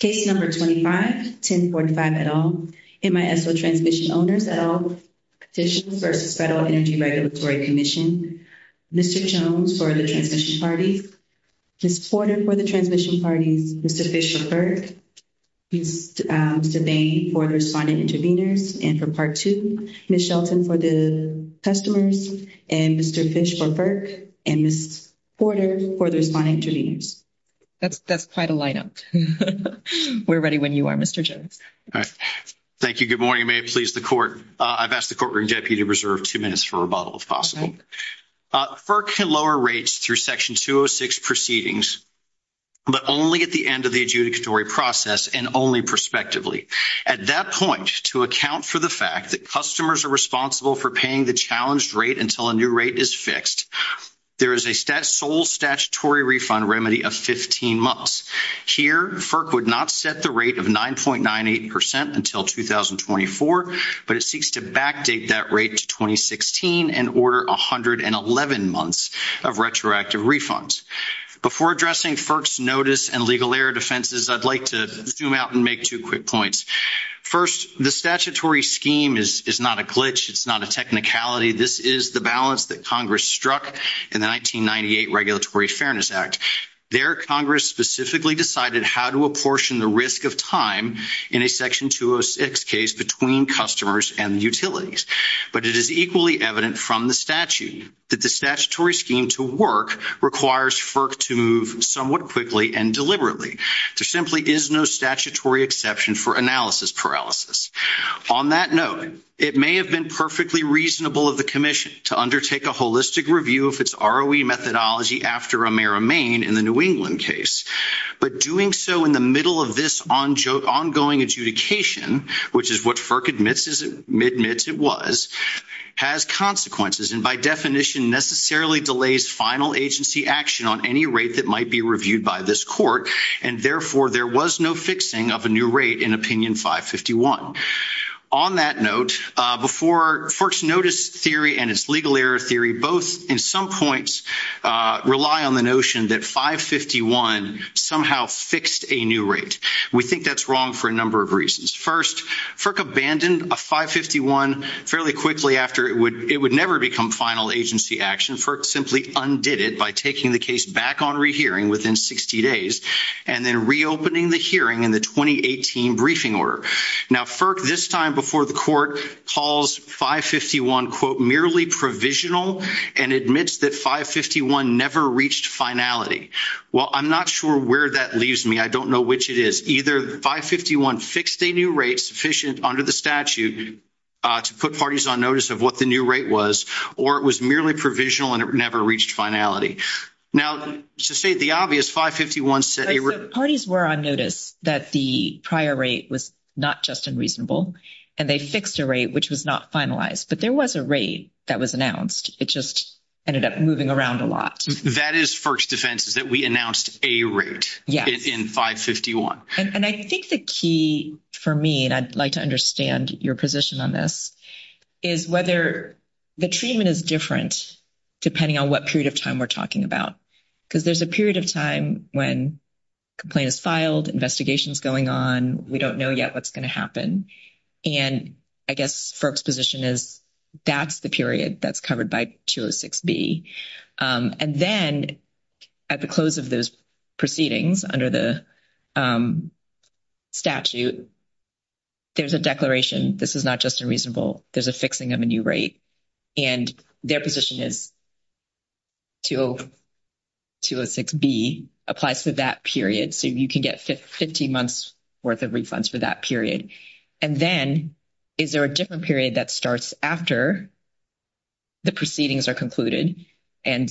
Page number 25, 1045 et al. MISO Transmission Owners et al. Petition for the Federal Energy Regulatory Commission. Mr. Jones for the Transmission Party. Ms. Porter for the Transmission Party, Mr. Fish for FERC, Mr. Bain for Responding Intervenors, and for Part 2, Ms. Shelton for the Customers, and Mr. Fish for FERC, and Ms. Porter for the Responding Intervenors. That's quite a lineup. We're ready when you are, Mr. Jones. Thank you. Good morning. May it please the Court. I've asked the Courtroom Deputy to reserve two minutes for rebuttal, if possible. FERC can lower rates through Section 206 proceedings, but only at the end of the adjudicatory process and only prospectively. At that point, to account for the fact that customers are responsible for paying the challenged rate until a new rate is fixed, there is a sole statutory refund remedy of 15 months. Here, FERC would not set the rate of 9.98% until 2024, but it seeks to backdate that rate to 2016 and order 111 months of retroactive refunds. Before addressing FERC's notice and legal error defenses, I'd like to zoom out and make two quick points. First, the statutory scheme is not a glitch. It's not a technicality. This is the balance that Congress struck in the 1998 Regulatory Fairness Act. There, Congress specifically decided how to apportion the risk of time in a Section 206 case between customers and utilities. But it is equally evident from the statute that the statutory scheme to work requires FERC to move somewhat quickly and deliberately. There simply is no statutory exception for analysis paralysis. On that note, it may have been perfectly reasonable of the Commission to undertake a holistic review of its ROE methodology after Amera Maine in the New England case. But doing so in the middle of this ongoing adjudication, which is what FERC admits it was, has consequences, and by definition necessarily delays final agency action on any rate that might be reviewed by this court, and therefore there was no fixing of a new rate in Opinion 551. On that note, FERC's notice theory and its legal error theory both in some points rely on the notion that 551 somehow fixed a new rate. We think that's wrong for a number of reasons. First, FERC abandoned a 551 fairly quickly after it would never become final agency action. FERC simply undid it by taking the case back on rehearing within 60 days and then reopening the hearing in the 2018 briefing order. Now, FERC this time before the court calls 551, quote, merely provisional and admits that 551 never reached finality. Well, I'm not sure where that leaves me. I don't know which it is. Either 551 fixed a new rate sufficient under the statute to put parties on notice of what the new rate was, or it was merely provisional and it never reached finality. Now, to state the obvious, 551 set a route. Parties were on notice that the prior rate was not just unreasonable, and they fixed a rate which was not finalized. But there was a rate that was announced. It just ended up moving around a lot. That is FERC's defense, that we announced a route in 551. And I think the key for me, and I'd like to understand your position on this, is whether the treatment is different depending on what period of time we're talking about. Because there's a period of time when a complaint is filed, investigation is going on, we don't know yet what's going to happen. And I guess FERC's position is that's the period that's covered by 206B. And then at the close of those proceedings under the statute, there's a declaration, this is not just unreasonable, there's a fixing of a new rate. And their position is 206B applies to that period. So you can get 50 months worth of refunds for that period. And then is there a different period that starts after the proceedings are concluded and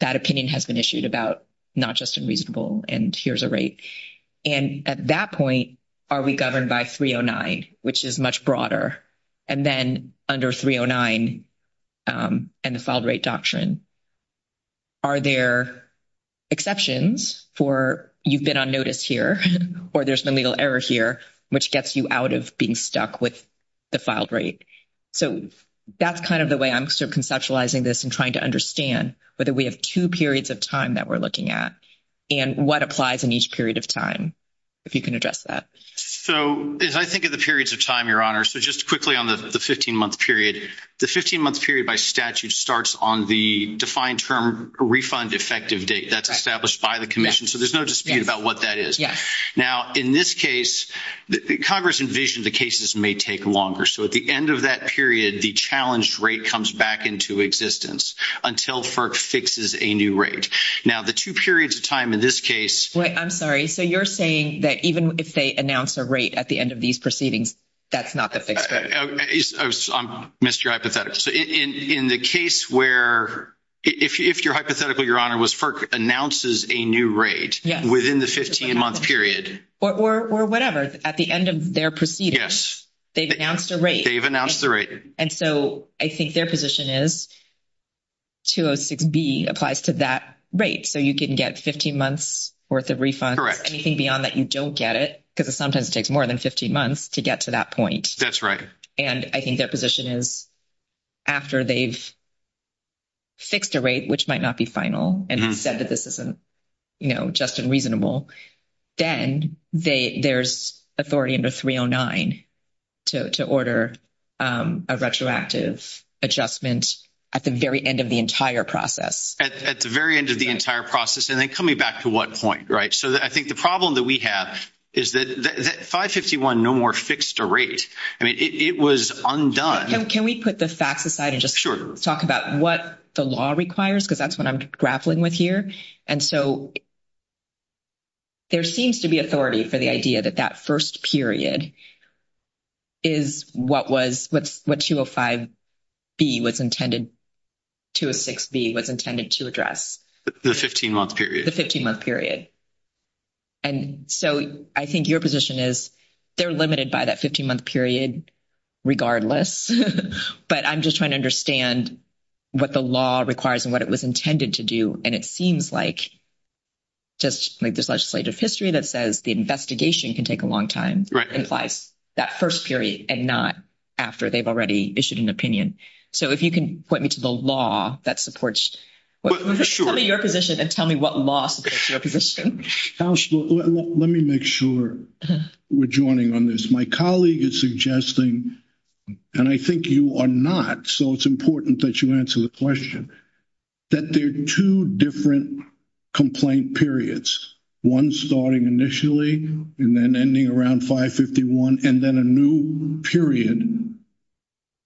that opinion has been issued about not just unreasonable and here's a rate? And at that point, are we governed by 309, which is much broader? And then under 309 and the filed rate doctrine, are there exceptions for you've been on notice here? Or there's no legal error here, which gets you out of being stuck with the filed rate. So that's kind of the way I'm conceptualizing this and trying to understand whether we have two periods of time that we're looking at. And what applies in each period of time, if you can address that. So as I think of the periods of time, Your Honor, so just quickly on the 15-month period. The 15-month period by statute starts on the defined term refund effective date that's established by the commission. So there's no dispute about what that is. Now, in this case, Congress envisioned the cases may take longer. So at the end of that period, the challenged rate comes back into existence until FERC fixes a new rate. Now, the two periods of time in this case. I'm sorry. So you're saying that even if they announce a rate at the end of these proceedings, that's not the fixed rate? I missed your hypothetical. So in the case where if your hypothetical, Your Honor, was FERC announces a new rate within the 15-month period. Or whatever. At the end of their proceedings, they've announced a rate. They've announced the rate. And so I think their position is 206B applies to that rate. So you can get 15 months' worth of refund. Correct. Anything beyond that, you don't get it because it sometimes takes more than 15 months to get to that point. That's right. And I think their position is after they've fixed a rate, which might not be final, and said that this isn't just unreasonable, then there's authority under 309 to order a retroactive adjustment at the very end of the entire process. At the very end of the entire process. And then coming back to what point, right? So I think the problem that we have is that 551 no more fixed a rate. I mean, it was undone. So can we put the facts aside and just talk about what the law requires? Because that's what I'm grappling with here. And so there seems to be authority for the idea that that first period is what was, what 205B was intended, 206B was intended to address. The 15-month period. The 15-month period. And so I think your position is they're limited by that 15-month period regardless. But I'm just trying to understand what the law requires and what it was intended to do. And it seems like just this legislative history that says the investigation can take a long time implies that first period and not after they've already issued an opinion. So if you can point me to the law that supports your position and tell me what law supports your position. Let me make sure we're joining on this. My colleague is suggesting, and I think you are not, so it's important that you answer the question, that there are two different complaint periods. One starting initially and then ending around 551 and then a new period.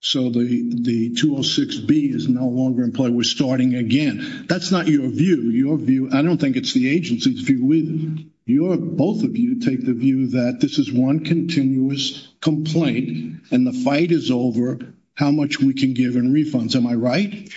So the 206B is no longer in play. We're starting again. That's not your view. I don't think it's the agency's view. Both of you take the view that this is one continuous complaint and the fight is over how much we can give in refunds. Am I right?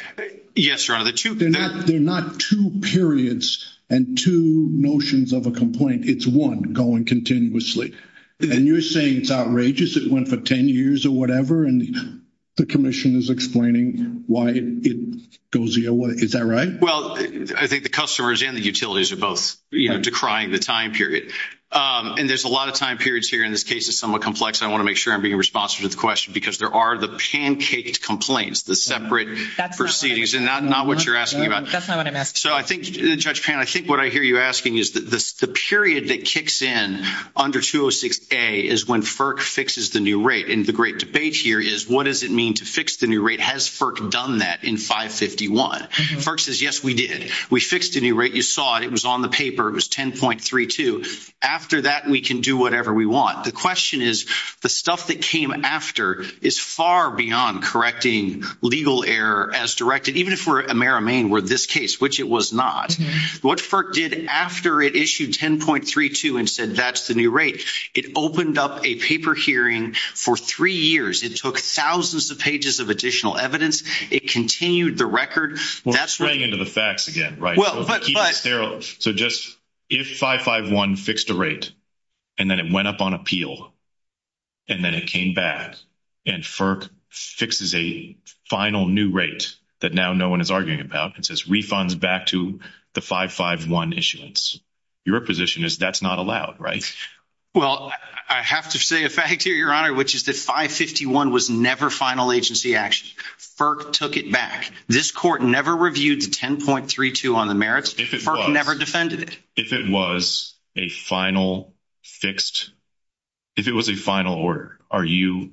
Yes, Your Honor. There are not two periods and two notions of a complaint. It's one going continuously. And you're saying it's outrageous. It went for 10 years or whatever, and the commission is explaining why it goes the other way. Is that right? Well, I think the customers and the utilities are both decrying the time period. And there's a lot of time periods here, and this case is somewhat complex. I want to make sure I'm being responsive to the question because there are the pancaked complaints, the separate proceedings, and that's not what you're asking about. That's not what I'm asking. So, Judge Pan, I think what I hear you asking is the period that kicks in under 206A is when FERC fixes the new rate. And the great debate here is what does it mean to fix the new rate? Has FERC done that in 551? FERC says, yes, we did. We fixed the new rate. You saw it. It was on the paper. It was 10.32. After that, we can do whatever we want. The question is, the stuff that came after is far beyond correcting legal error as directed, even if we're at AmeriMaine with this case, which it was not. What FERC did after it issued 10.32 and said, that's the new rate, it opened up a paper hearing for three years. It took thousands of pages of additional evidence. It continued the record. Well, it ran into the facts again, right? So, just if 551 fixed the rate and then it went up on appeal and then it came back and FERC fixes a final new rate that now no one is arguing about and says refunds back to the 551 issuance, your position is that's not allowed, right? Well, I have to say a fact here, Your Honor, which is that 551 was never final agency action. FERC took it back. This court never reviewed the 10.32 on the merits. FERC never defended it. If it was a final fixed, if it was a final order, are you,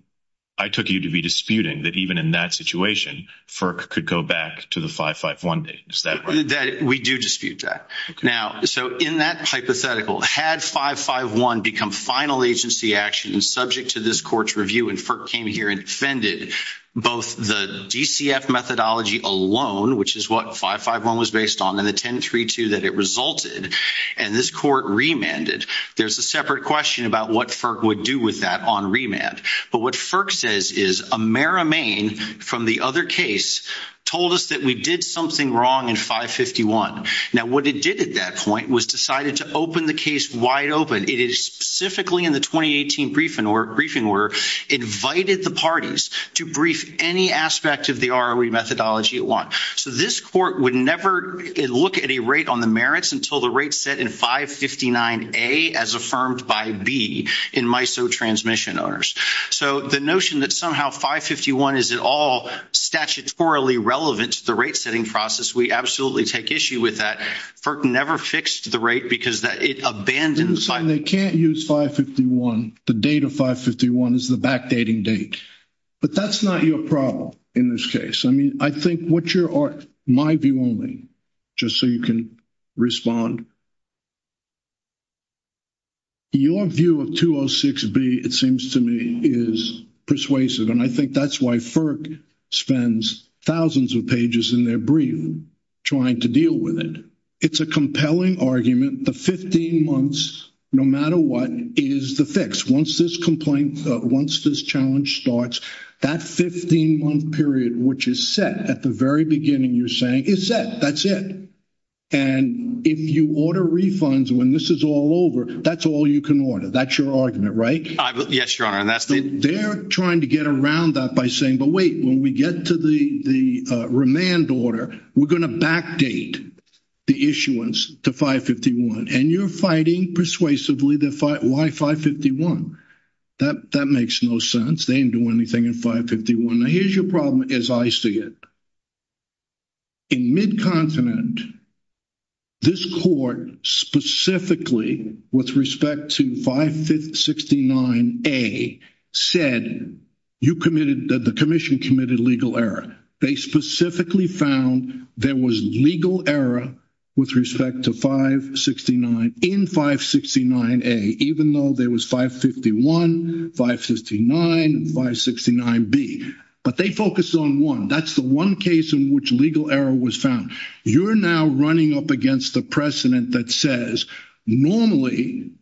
I took you to be disputing that even in that situation, FERC could go back to the 551. We do dispute that. Now, so in that hypothetical, had 551 become final agency action and subject to this court's review and FERC came here and defended both the DCF methodology alone, which is what 551 was based on, and the 10.32 that it resulted, and this court remanded, there's a separate question about what FERC would do with that on remand. But what FERC says is Amera Main, from the other case, told us that we did something wrong in 551. Now, what it did at that point was decided to open the case wide open. It is specifically in the 2018 briefing where it invited the parties to brief any aspect of the ROE methodology at once. So this court would never look at a rate on the merits until the rate set in 559A as affirmed by B in MISO transmission owners. So the notion that somehow 551 is at all statutorily relevant to the rate-setting process, we absolutely take issue with that. FERC never fixed the rate because it abandoned— They can't use 551. The date of 551 is the backdating date. But that's not your problem in this case. I mean, I think what your—my view only, just so you can respond. Your view of 206B, it seems to me, is persuasive. And I think that's why FERC spends thousands of pages in their brief trying to deal with it. It's a compelling argument. The 15 months, no matter what, is the fix. Once this complaint—once this challenge starts, that 15-month period, which is set at the very beginning, you're saying, is set. That's it. And if you order refunds when this is all over, that's all you can order. That's your argument, right? Yes, Your Honor. And that's— They're trying to get around that by saying, but wait, when we get to the remand order, we're going to backdate the issuance to 551. And you're fighting persuasively the—why 551? That makes no sense. They didn't do anything in 551. Here's your problem as I see it. In Mid-Continent, this court specifically, with respect to 569A, said you committed—the Commission committed legal error. They specifically found there was legal error with respect to 569—in 569A, even though there was 551, 559, and 569B. But they focused on one. That's the one case in which legal error was found. You're now running up against a precedent that says normally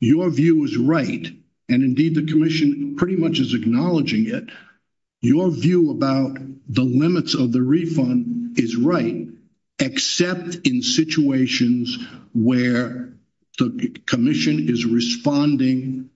your view is right, and indeed the Commission pretty much is acknowledging it. Your view about the limits of the refund is right, except in situations where the Commission is responding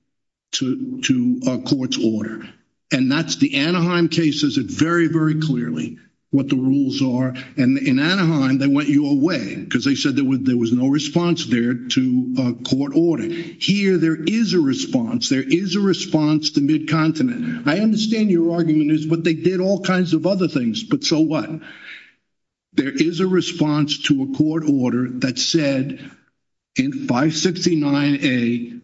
to a court's order. And that's the Anaheim cases are very, very clearly what the rules are. And in Anaheim, they went you away because they said there was no response there to a court order. Here, there is a response. There is a response to Mid-Continent. I understand your arguments, but they did all kinds of other things, but so what? There is a response to a court order that said in 569A,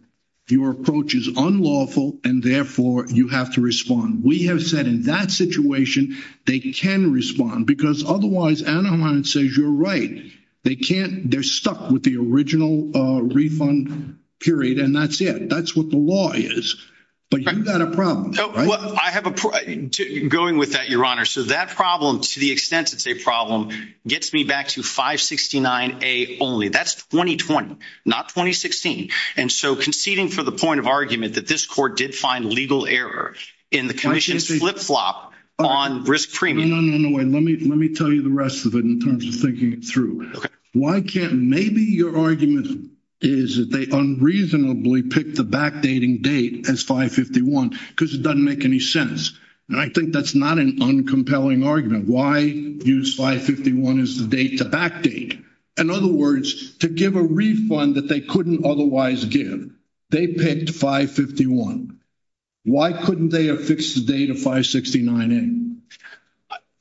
your approach is unlawful, and therefore you have to respond. We have said in that situation they can respond because otherwise Anaheim says you're right. They can't—they're stuck with the original refund period, and that's it. That's what the law is. But you've got a problem, right? Well, I have a—going with that, Your Honor, so that problem, to the extent it's a problem, gets me back to 569A only. That's 2020, not 2016. And so conceding from the point of argument that this court did find legal error in the Commission's flip-flop on risk premium— No, no, no, wait. Let me tell you the rest of it in terms of thinking it through. Maybe your argument is that they unreasonably picked the backdating date as 551 because it doesn't make any sense. And I think that's not an uncompelling argument. Why use 551 as the date to backdate? In other words, to give a refund that they couldn't otherwise give, they picked 551. Why couldn't they have fixed the date of 569A?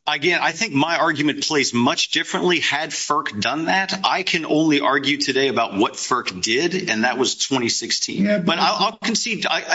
Again, I think my argument plays much differently. Had FERC done that, I can only argue today about what FERC did, and that was 2016. But I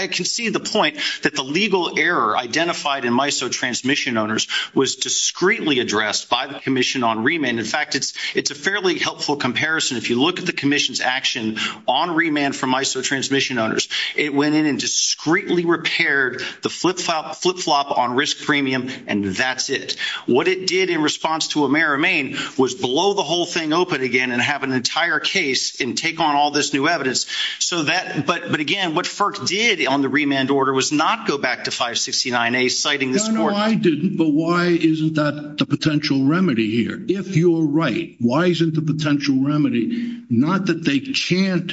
concede the point that the legal error identified in MISO transmission owners was discreetly addressed by the Commission on remand. In fact, it's a fairly helpful comparison. If you look at the Commission's action on remand for MISO transmission owners, it went in and discreetly repaired the flip-flop on risk premium, and that's it. What it did in response to O'Mara Maine was blow the whole thing open again and have an entire case and take on all this new evidence. But again, what FERC did on the remand order was not go back to 569A, citing this court— No, no, I didn't. But why isn't that the potential remedy here? If you're right, why isn't the potential remedy not that they can't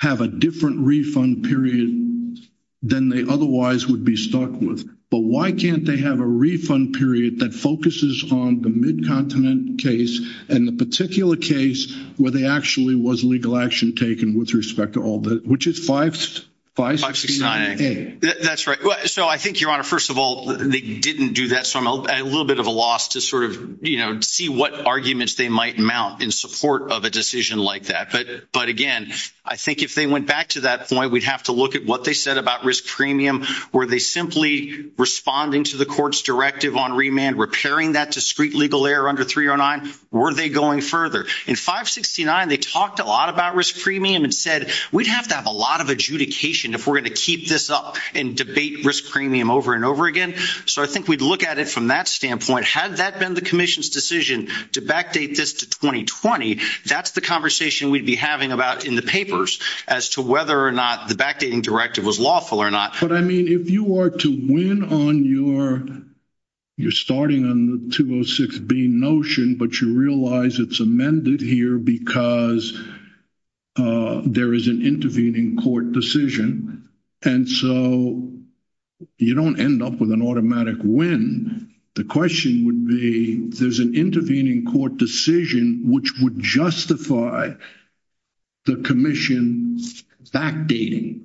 have a different refund period than they otherwise would be stuck with, but why can't they have a refund period that focuses on the Mid-Continent case and the particular case where there actually was legal action taken with respect to all this, which is 569A? That's right. So I think, Your Honor, first of all, they didn't do that, so I'm a little bit of a loss to sort of see what arguments they might mount in support of a decision like that. But again, I think if they went back to that point, we'd have to look at what they said about risk premium. Were they simply responding to the court's directive on remand, repairing that discreet legal error under 309, or were they going further? In 569, they talked a lot about risk premium and said, we'd have to have a lot of adjudication if we're going to keep this up and debate risk premium over and over again. So I think we'd look at it from that standpoint. Had that been the commission's decision to backdate this to 2020, that's the conversation we'd be having about in the papers as to whether or not the backdating directive was lawful or not. But I mean, if you are to win on your starting on the 206B notion, but you realize it's amended here because there is an intervening court decision, and so you don't end up with an automatic win. The question would be, there's an intervening court decision which would justify the commission's backdating.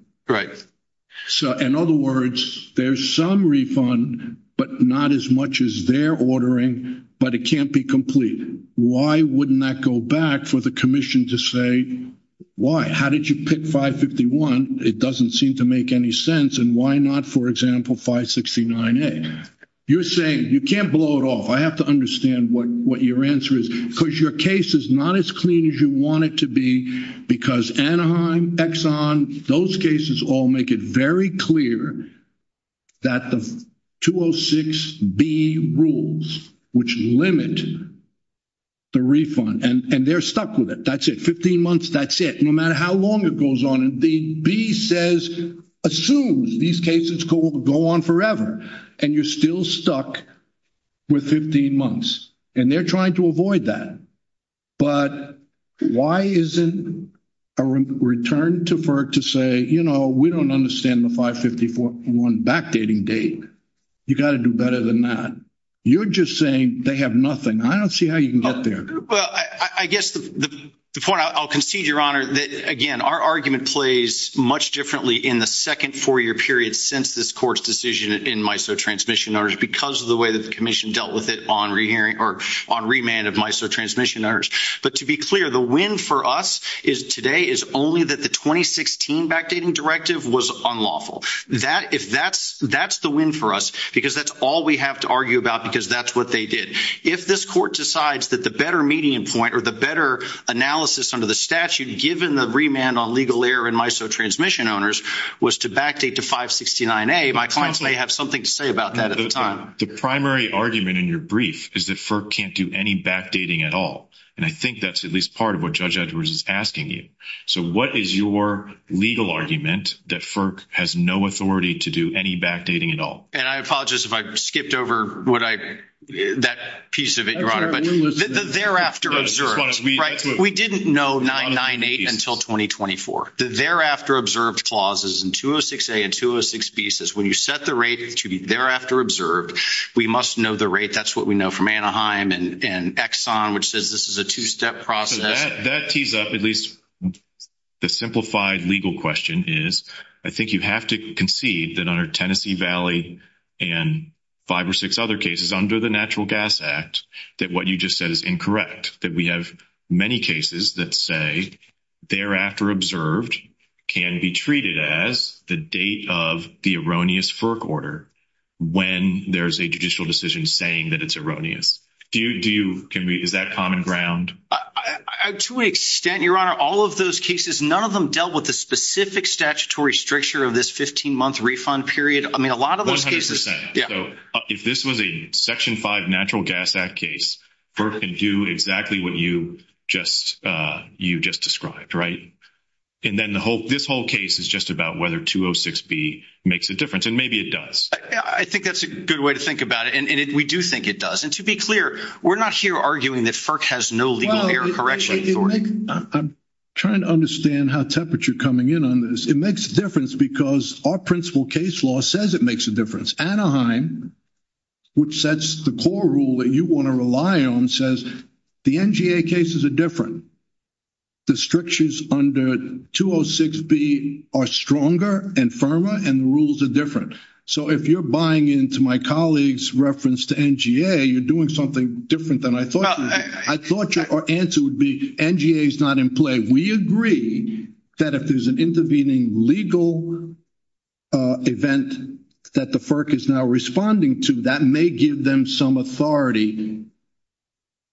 In other words, there's some refund, but not as much as their ordering, but it can't be complete. Why wouldn't that go back for the commission to say, why? How did you pick 551? It doesn't seem to make any sense. And why not, for example, 569A? You're saying you can't blow it off. I have to understand what your answer is. Because your case is not as clean as you want it to be because Anaheim, Exxon, those cases all make it very clear that the 206B rules, which limit the refund, and they're stuck with it. That's it. Fifteen months, that's it. No matter how long it goes on. The B assumes these cases go on forever, and you're still stuck with 15 months, and they're trying to avoid that. But why isn't a return to FERC to say, you know, we don't understand the 551 backdating date. You've got to do better than that. You're just saying they have nothing. I don't see how you can get there. Well, I guess the point I'll concede, Your Honor, that, again, our argument plays much differently in the second four-year period since this court's decision in MISO Transmission Notaries because of the way the commission dealt with it on remand of MISO Transmission Notaries. But to be clear, the win for us today is only that the 2016 backdating directive was unlawful. That's the win for us because that's all we have to argue about because that's what they did. If this court decides that the better median point or the better analysis under the statute given the remand on legal error in MISO Transmission Owners was to backdate to 569A, my clients may have something to say about that at the time. The primary argument in your brief is that FERC can't do any backdating at all. And I think that's at least part of what Judge Edwards is asking you. So what is your legal argument that FERC has no authority to do any backdating at all? And I apologize if I skipped over that piece of it, Your Honor. The thereafter observed, right? We didn't know 998 until 2024. The thereafter observed clauses in 206A and 206B says when you set the rate to be thereafter observed, we must know the rate. That's what we know from Anaheim and Exxon, which says this is a two-step process. That tees up at least the simplified legal question is I think you have to concede that under Tennessee Valley and five or six other cases under the Natural Gas Act that what you just said is incorrect, that we have many cases that say thereafter observed can be treated as the date of the erroneous FERC order when there's a judicial decision saying that it's erroneous. Is that common ground? To an extent, Your Honor, all of those cases, none of them dealt with the specific statutory stricture of this 15-month refund period. I mean, a lot of those cases. If this was a Section 5 Natural Gas Act case, FERC can do exactly what you just described, right? And then this whole case is just about whether 206B makes a difference. And maybe it does. I think that's a good way to think about it. And we do think it does. And to be clear, we're not here arguing that FERC has no legal error correction. I'm trying to understand how temperate you're coming in on this. It makes a difference because our principal case law says it makes a difference. Anaheim, which sets the core rule that you want to rely on, says the NGA cases are different. The strictures under 206B are stronger and firmer, and the rules are different. So if you're buying into my colleague's reference to NGA, you're doing something different than I thought. I thought your answer would be NGA is not in play. We agree that if there's an intervening legal event that the FERC is now responding to, that may give them some authority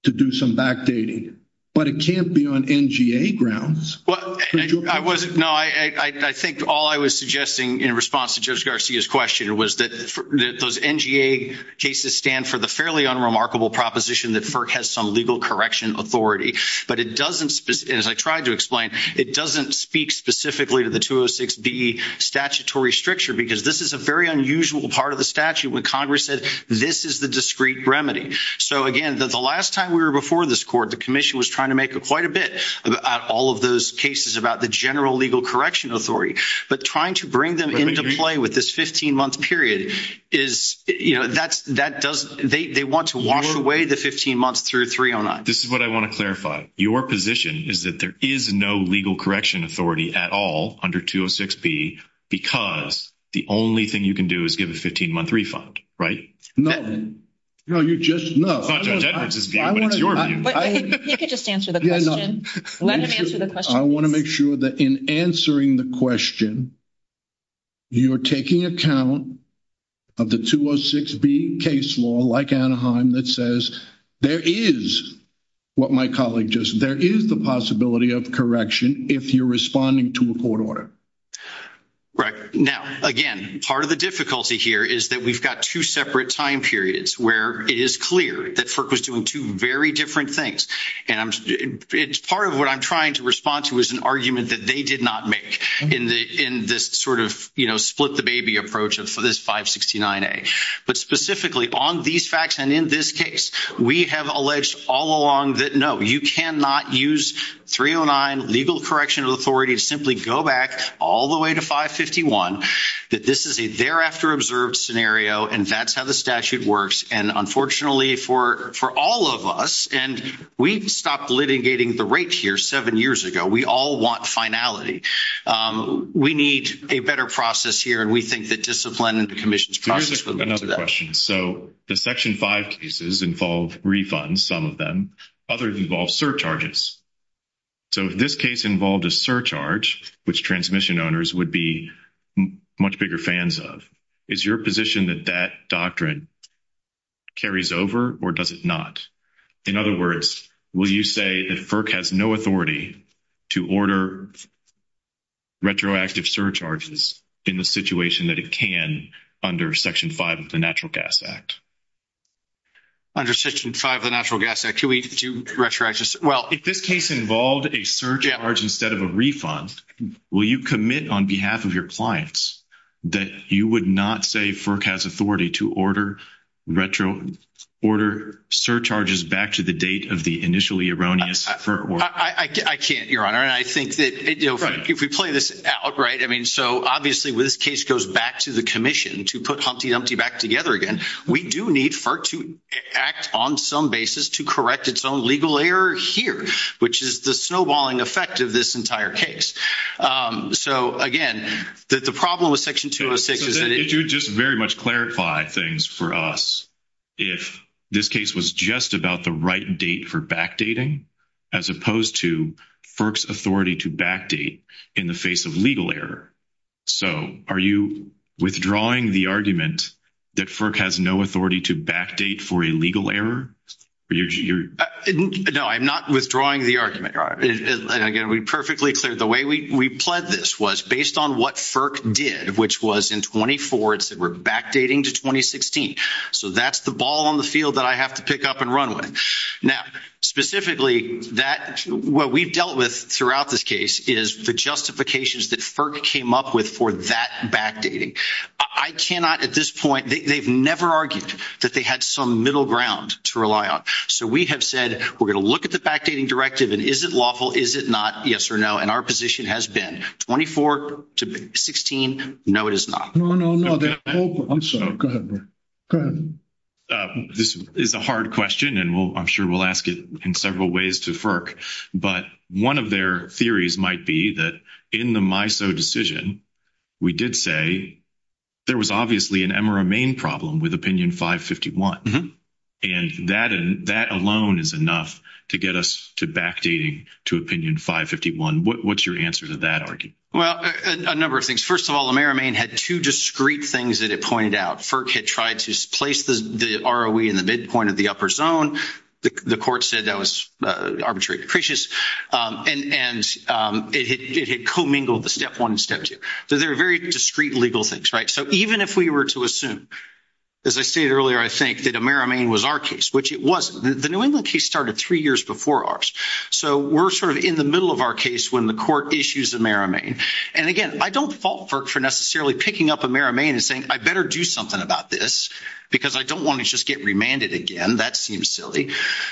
to do some backdating. But it can't be on NGA grounds. No, I think all I was suggesting in response to Judge Garcia's question was that those NGA cases stand for the fairly unremarkable proposition that FERC has some legal correction authority. But it doesn't, as I tried to explain, it doesn't speak specifically to the 206B statutory stricture because this is a very unusual part of the statute when Congress said this is the discrete remedy. So, again, the last time we were before this court, the commission was trying to make up quite a bit about all of those cases about the general legal correction authority. But trying to bring them into play with this 15-month period is, you know, that doesn't – they want to wash away the 15 months through 309. This is what I want to clarify. Your position is that there is no legal correction authority at all under 206B because the only thing you can do is give a 15-month refund, right? No. No, you just – no. That's your view. You can just answer the question. Let him answer the question. I want to make sure that in answering the question, you are taking account of the 206B case law like Anaheim that says there is what my colleague just – there is the possibility of correction if you're responding to a court order. Right. Now, again, part of the difficulty here is that we've got two separate time periods where it is clear that FERC was doing two very different things. And it's part of what I'm trying to respond to is an argument that they did not make in this sort of, you know, split the baby approach of this 569A. But specifically, on these facts and in this case, we have alleged all along that, no, you cannot use 309, legal correction of authority, simply go back all the way to 551, that this is a thereafter observed scenario and that's how the statute works. And, unfortunately, for all of us – and we stopped litigating the rape here seven years ago. We all want finality. We need a better process here. And we think that discipline and the commission's process would lead to that. Another question. So the Section 5 cases involve refunds, some of them. Others involve surcharges. So if this case involved a surcharge, which transmission owners would be much bigger fans of, is your position that that doctrine carries over or does it not? In other words, will you say that FERC has no authority to order retroactive surcharges in the situation that it can under Section 5 of the Natural Gas Act? Under Section 5 of the Natural Gas Act, can we do retroactive – well, if this case involved a surcharge instead of a refund, will you commit on behalf of your clients that you would not say FERC has authority to order surcharges back to the date of the initially erroneous – I can't, Your Honor. And I think that if we play this out, right, I mean, so obviously when this case goes back to the commission to put Humpty Dumpty back together again, we do need FERC to act on some basis to correct its own legal error here, which is the snowballing effect of this entire case. So, again, the problem with Section 206 is that it – Could you just very much clarify things for us if this case was just about the right date for backdating, as opposed to FERC's authority to backdate in the face of legal error? So are you withdrawing the argument that FERC has no authority to backdate for a legal error? No, I'm not withdrawing the argument. And, again, we perfectly cleared – the way we pled this was based on what FERC did, which was in 20-4, it said we're backdating to 2016. So that's the ball on the field that I have to pick up and run with. Now, specifically, that – what we've dealt with throughout this case is the justifications that FERC came up with for that backdating. I cannot at this point – they've never argued that they had some middle ground to rely on. So we have said we're going to look at the backdating directive, and is it lawful, is it not, yes or no. And our position has been 24 to 16, no, it is not. No, no, no. I'm sorry. Go ahead. This is a hard question, and I'm sure we'll ask it in several ways to FERC. But one of their theories might be that in the MISO decision, we did say there was obviously an Emera-Maine problem with Opinion 551. And that alone is enough to get us to backdating to Opinion 551. What's your answer to that argument? Well, a number of things. First of all, Emera-Maine had two discrete things that it pointed out. FERC had tried to place the ROE in the midpoint of the upper zone. The court said that was arbitrary and capricious. And it had commingled the Step 1 and Step 2. So they're very discrete legal things, right? So even if we were to assume, as I stated earlier, I think, that Emera-Maine was our case, which it wasn't. The New England case started three years before ours. So we're sort of in the middle of our case when the court issues Emera-Maine. And, again, I don't fault FERC for necessarily picking up Emera-Maine and saying, I better do something about this because I don't want to just get remanded again. That seems silly.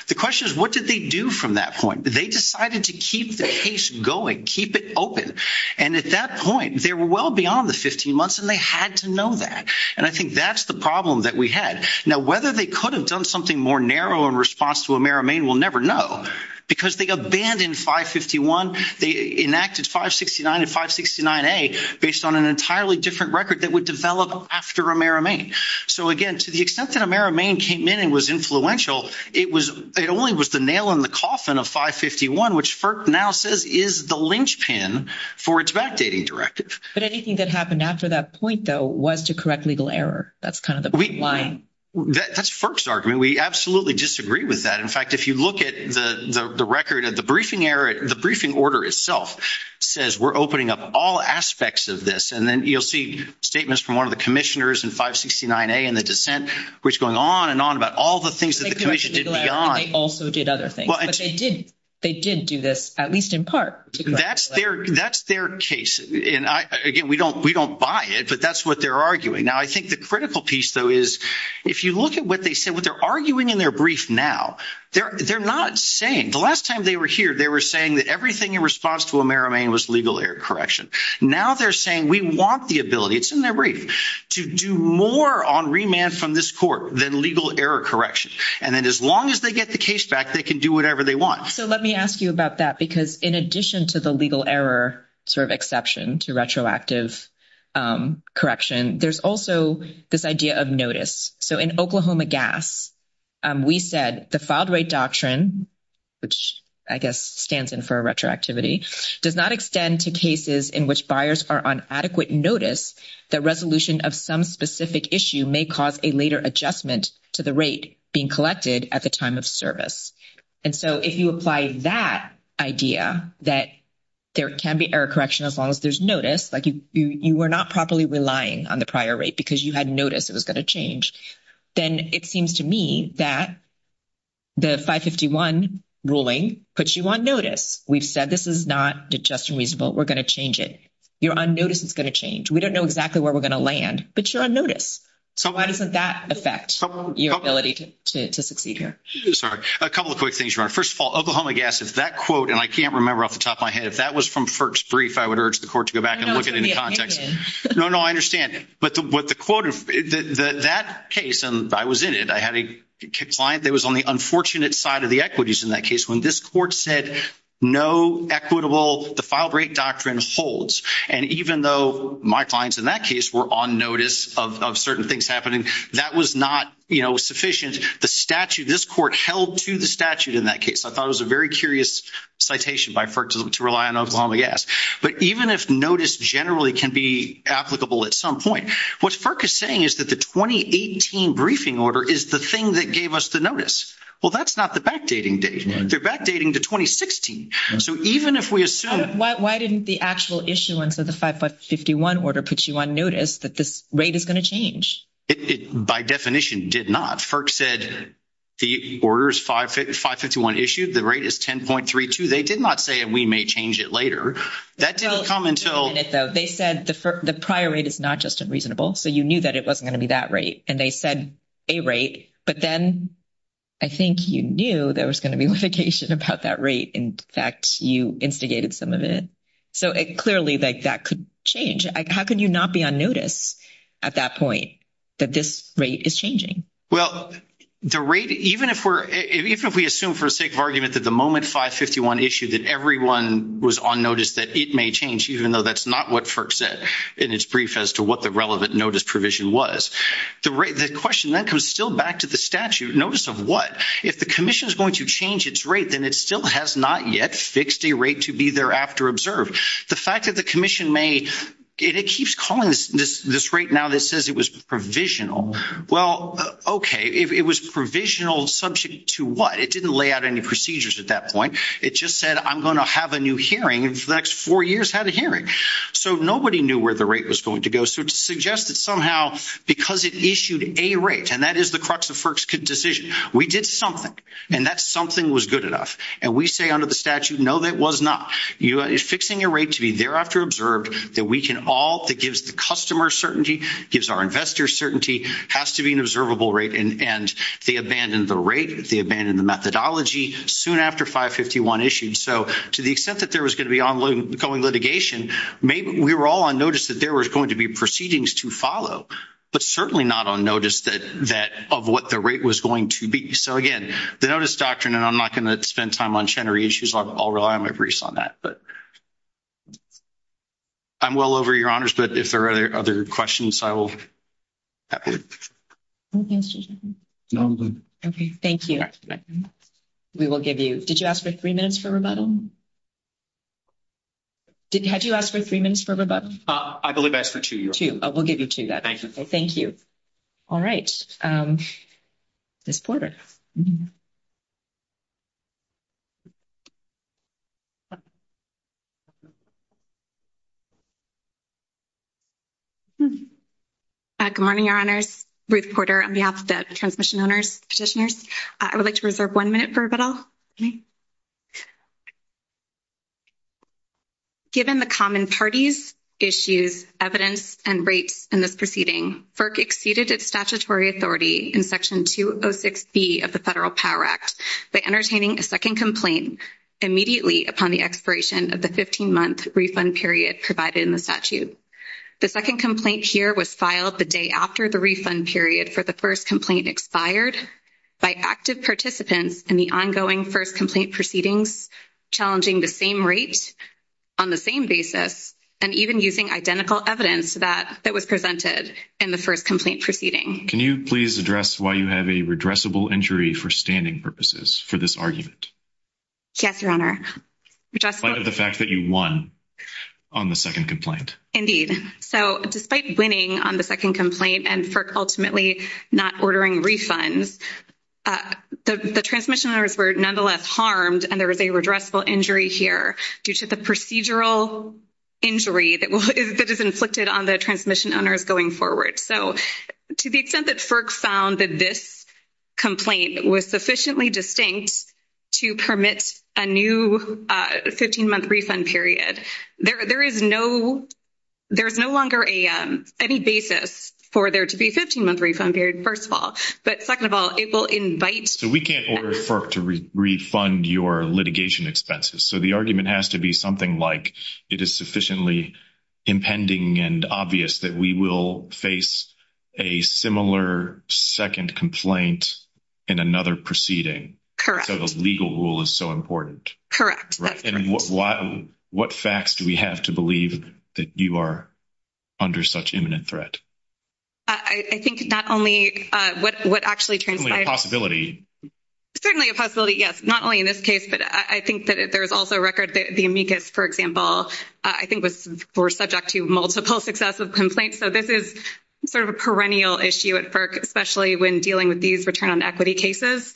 The question is, what did they do from that point? They decided to keep the case going, keep it open. And at that point, they were well beyond the 15 months, and they had to know that. And I think that's the problem that we had. Now, whether they could have done something more narrow in response to Emera-Maine, we'll never know. Because they abandoned 551. They enacted 569 and 569A based on an entirely different record that would develop after Emera-Maine. So, again, to the extent that Emera-Maine came in and was influential, it only was the nail in the coffin of 551, which FERC now says is the linchpin for its backdating directive. But anything that happened after that point, though, was to correct legal error. That's kind of the point. That's FERC's argument. We absolutely disagree with that. In fact, if you look at the record of the briefing order itself, it says we're opening up all aspects of this. And then you'll see statements from one of the commissioners in 569A and the dissent, which is going on and on about all the things that the commission did beyond. They also did other things. But they didn't. They didn't do this, at least in part. That's their case. And, again, we don't buy it, but that's what they're arguing. Now, I think the critical piece, though, is if you look at what they said, what they're arguing in their brief now, they're not saying. The last time they were here, they were saying that everything in response to Emera-Maine was legal error correction. Now they're saying we want the ability, it's in their brief, to do more on remand from this court than legal error correction. And then as long as they get the case back, they can do whatever they want. So let me ask you about that, because in addition to the legal error sort of exception to retroactive correction, there's also this idea of notice. So in Oklahoma Gas, we said the filed rate doctrine, which I guess stands in for retroactivity, does not extend to cases in which buyers are on adequate notice that resolution of some specific issue may cause a later adjustment to the rate being collected at the time of service. And so if you apply that idea that there can be error correction as long as there's notice, like you were not properly relying on the prior rate because you had notice it was going to change, then it seems to me that the 551 ruling puts you on notice. We've said this is not just reasonable. We're going to change it. You're on notice it's going to change. We don't know exactly where we're going to land, but you're on notice. So why doesn't that affect your ability to succeed here? Sorry. A couple of quick things. First of all, Oklahoma Gas, that quote, and I can't remember off the top of my head, that was from FERC's brief. I would urge the court to go back and look at it in context. No, no, I understand it. But what the quote of that case, and I was in it, I had a client that was on the unfortunate side of the equities in that case. When this court said no equitable, the filed rate doctrine holds. And even though my clients in that case were on notice of certain things happening, that was not sufficient. The statute, this court held to the statute in that case. I thought it was a very curious citation by FERC to rely on Oklahoma Gas. But even if notice generally can be applicable at some point, what FERC is saying is that the 2018 briefing order is the thing that gave us the notice. Well, that's not the backdating date. They're backdating to 2016. So even if we assume – Why didn't the actual issuance of the 551 order put you on notice that this rate is going to change? It by definition did not. FERC said the order is 551 issued. The rate is 10.32. They did not say we may change it later. That does come until – They said the prior rate is not just unreasonable. So you knew that it wasn't going to be that rate. And they said a rate. But then I think you knew there was going to be verification about that rate. In fact, you instigated some of it. So clearly that could change. How could you not be on notice at that point that this rate is changing? Well, the rate, even if we assume for the sake of argument that the moment 551 issued that everyone was on notice that it may change, even though that's not what FERC says in its brief as to what the relevant notice provision was, the question then comes still back to the statute. Notice of what? If the commission is going to change its rate, then it still has not yet fixed a rate to be thereafter observed. The fact that the commission may – it keeps calling this rate now that says it was provisional. Well, okay, it was provisional subject to what? It didn't lay out any procedures at that point. It just said, I'm going to have a new hearing. In the next four years, have a hearing. So nobody knew where the rate was going to go. So to suggest that somehow because it issued a rate, and that is the crux of FERC's decision, we did something. And that something was good enough. And we say under the statute, no, it was not. Fixing a rate to be thereafter observed that we can all – that gives the customer certainty, gives our investors certainty, has to be an observable rate. And they abandoned the rate. They abandoned the methodology soon after 551 issued. So to the extent that there was going to be ongoing litigation, we were all on notice that there was going to be proceedings to follow, but certainly not on notice of what the rate was going to be. So, again, the notice doctrine, and I'm not going to spend time on general issues. I'll rely on my briefs on that. But I'm well over your honors, but if there are other questions, I will. Thank you. Thank you. We will give you – did you ask for three minutes for rebuttal? Had you asked for three minutes for rebuttal? I believe I asked for two. Two. We'll give you two then. Thank you. All right. Ruth Porter. Good morning, Your Honors. Ruth Porter on behalf of the transmission owners, petitioners. I would like to reserve one minute for rebuttal. Given the common parties, issues, evidence, and rates in this proceeding, FERC exceeded its statutory authority in Section 206B of the Federal Power Act by entertaining a second complaint immediately upon the expiration of the 15-month refund period provided in the statute. The second complaint here was filed the day after the refund period for the first complaint expired by active participants in the ongoing first complaint proceedings, challenging the same rates on the same basis, and even using identical evidence that was presented in the first complaint proceeding. Can you please address why you have a redressable injury for standing purposes for this argument? Yes, Your Honor. Because of the fact that you won on the second complaint. Indeed. So, despite winning on the second complaint and FERC ultimately not ordering refunds, the transmission owners were nonetheless harmed and there is a redressable injury here due to the procedural injury that is inflicted on the transmission owners going forward. So, to the extent that FERC found that this complaint was sufficiently distinct to permit a new 15-month refund period, there is no longer any basis for there to be a 15-month refund period, first of all. But, second of all, it will invite… So, we can't order FERC to refund your litigation expenses. So, the argument has to be something like it is sufficiently impending and obvious that we will face a similar second complaint in another proceeding. Correct. So, the legal rule is so important. Correct. And what facts do we have to believe that you are under such imminent threat? I think not only… Certainly a possibility. Yes, not only in this case, but I think that there is also a record that the amicus, for example, I think was subject to multiple successive complaints. So, this is sort of a perennial issue at FERC, especially when dealing with these return on equity cases.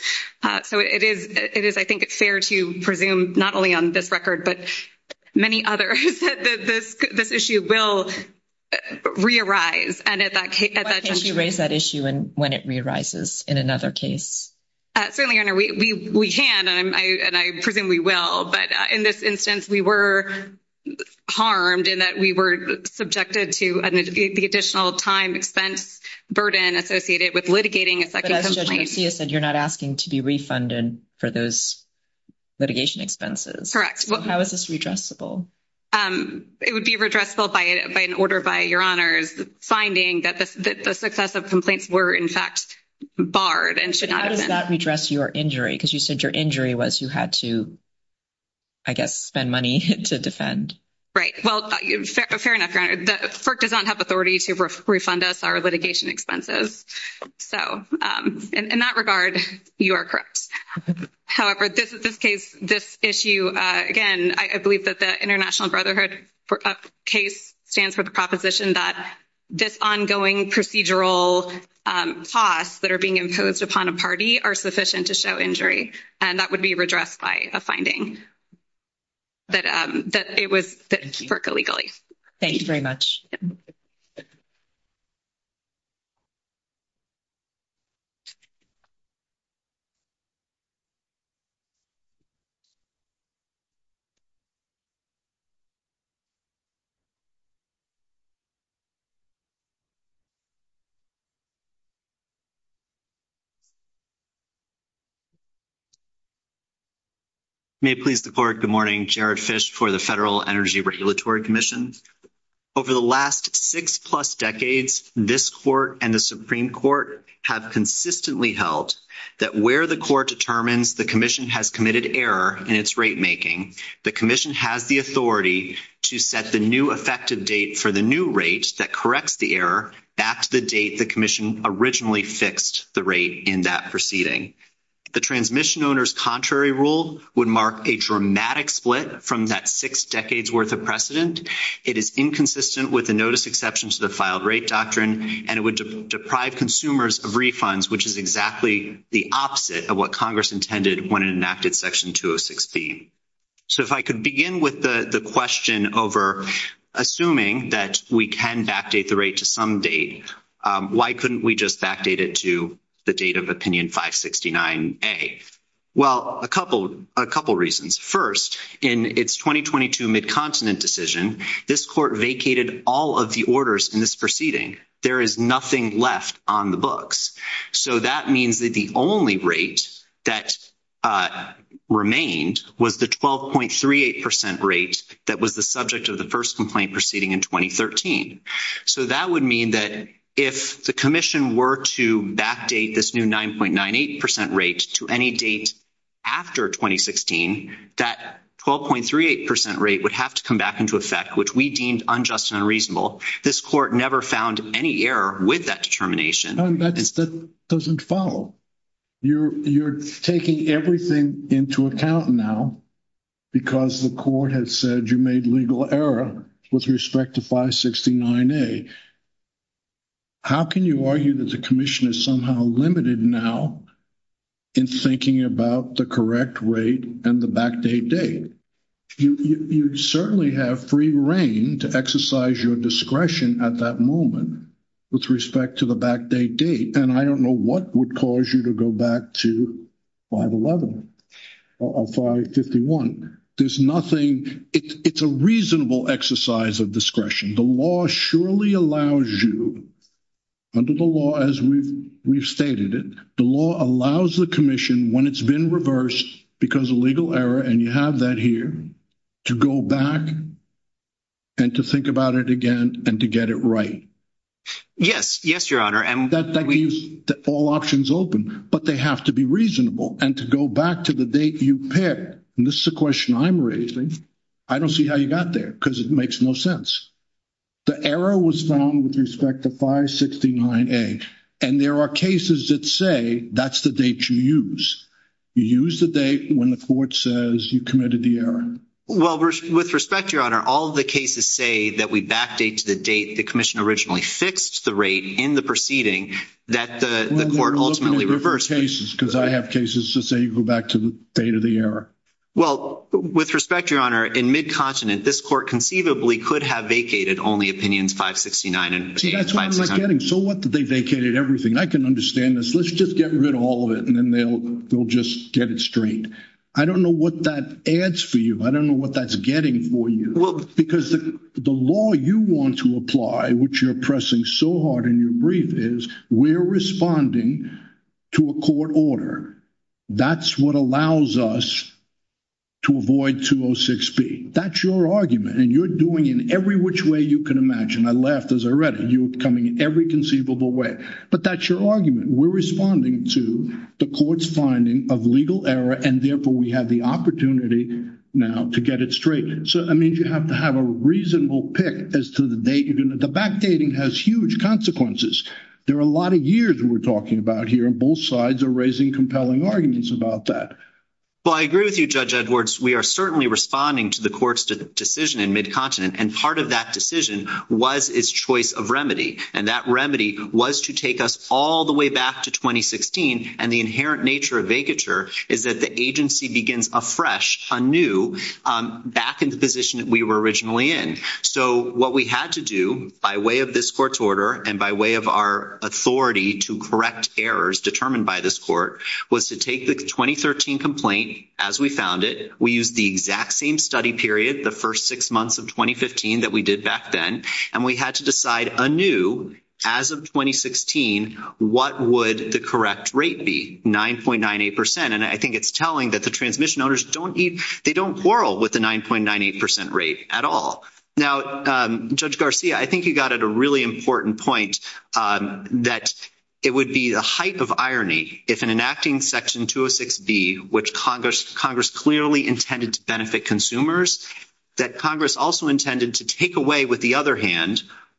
So, it is, I think, fair to presume not only on this record, but many others, that this issue will re-arise. And at that time… Why can't you raise that issue when it re-arises in another case? Certainly, Your Honor, we can, and I presume we will. But in this instance, we were harmed in that we were subjected to the additional time expense burden associated with litigating a second complaint. But as I see it, you are not asking to be refunded for those litigation expenses. Correct. How is this redressable? It would be redressable by an order by Your Honor's finding that the successive complaints were, in fact, barred and should not have been. How did that redress your injury? Because you said your injury was you had to, I guess, spend money to defend. Right. Well, fair enough, Your Honor. FERC does not have authority to refund us our litigation expenses. So, in that regard, you are correct. However, this case, this issue, again, I believe that the International Brotherhood case stands for the proposition that this ongoing procedural costs that are being imposed upon a party are sufficient to show injury. And that would be redressed by a finding that it was FERC illegally. Thank you very much. May it please the Court, good morning. Jared Fish for the Federal Energy Regulatory Commission. Over the last six-plus decades, this Court and the Supreme Court have consistently held that where the Court determines the Commission has committed error in its ratemaking, the corrects the error at the date the Commission originally fixed the rate in that proceeding. The transmission owner's contrary rule would mark a dramatic split from that six decades worth of precedent. It is inconsistent with the notice exception to the filed rate doctrine, and it would deprive consumers of refunds, which is exactly the opposite of what Congress intended when it enacted Section 2016. So if I could begin with the question over assuming that we can backdate the rate to some date, why couldn't we just backdate it to the date of Opinion 569A? Well, a couple reasons. First, in its 2022 Mid-Continent decision, this Court vacated all of the orders in this proceeding. There is nothing left on the books. So that means that the only rate that remained was the 12.38% rate that was the subject of the first complaint proceeding in 2013. So that would mean that if the Commission were to backdate this new 9.98% rate to any date after 2016, that 12.38% rate would have to come back into effect, which we deemed unjust and unreasonable. This Court never found any error with that determination. That doesn't follow. You're taking everything into account now because the Court has said you made legal error with respect to 569A. How can you argue that the Commission is somehow limited now in thinking about the correct rate and the backdate date? You certainly have free reign to exercise your discretion at that moment with respect to the backdate date, and I don't know what would cause you to go back to 511 or 551. There's nothing. It's a reasonable exercise of discretion. The law surely allows you, under the law as we've stated it, the law allows the Commission, when it's been reversed because of legal error, and you have that here, to go back and to think about it again and to get it right. Yes. Yes, Your Honor. That leaves all options open, but they have to be reasonable. And to go back to the date you picked, and this is a question I'm raising, I don't see how you got there because it makes no sense. The error was found with respect to 569A, and there are cases that say that's the date you use. You use the date when the Court says you committed the error. Well, with respect, Your Honor, all of the cases say that we backdate to the date the Commission originally fixed the rate in the proceeding that the Court ultimately reversed. Well, let's look at the other cases because I have cases that say you go back to the date of the error. Well, with respect, Your Honor, in Mid-Continent, this Court conceivably could have vacated only Opinion 569A. See, that's what I'm getting. So what? They vacated everything. I can understand this. Let's just get rid of all of it, and then they'll just get it straight. I don't know what that adds for you. I don't know what that's getting for you. Well, because the law you want to apply, which you're pressing so hard in your brief, is we're responding to a court order. That's what allows us to avoid 206B. That's your argument, and you're doing it every which way you can imagine. I laughed as I read it. You're coming in every conceivable way. But that's your argument. We're responding to the Court's finding of legal error, and therefore we have the opportunity now to get it straight. So, I mean, you have to have a reasonable pick as to the date. The backdating has huge consequences. There are a lot of years we're talking about here, and both sides are raising compelling arguments about that. Well, I agree with you, Judge Edwards. We are certainly responding to the Court's decision in Mid-Continent, and part of that decision was its choice of remedy, and that remedy was to take us all the way back to And the inherent nature of vacatur is that the agency begins afresh, anew, back in the position that we were originally in. So, what we had to do, by way of this Court's order and by way of our authority to correct errors determined by this Court, was to take the 2013 complaint as we found it. We used the exact same study period, the first six months of 2015 that we did back then, and we had to decide anew, as of 2016, what would the correct rate be, 9.98%. And I think it's telling that the transmission owners don't need—they don't quarrel with the 9.98% rate at all. Now, Judge Garcia, I think you got at a really important point that it would be a hype of irony if in enacting Section 206B, which Congress clearly intended to benefit consumers, that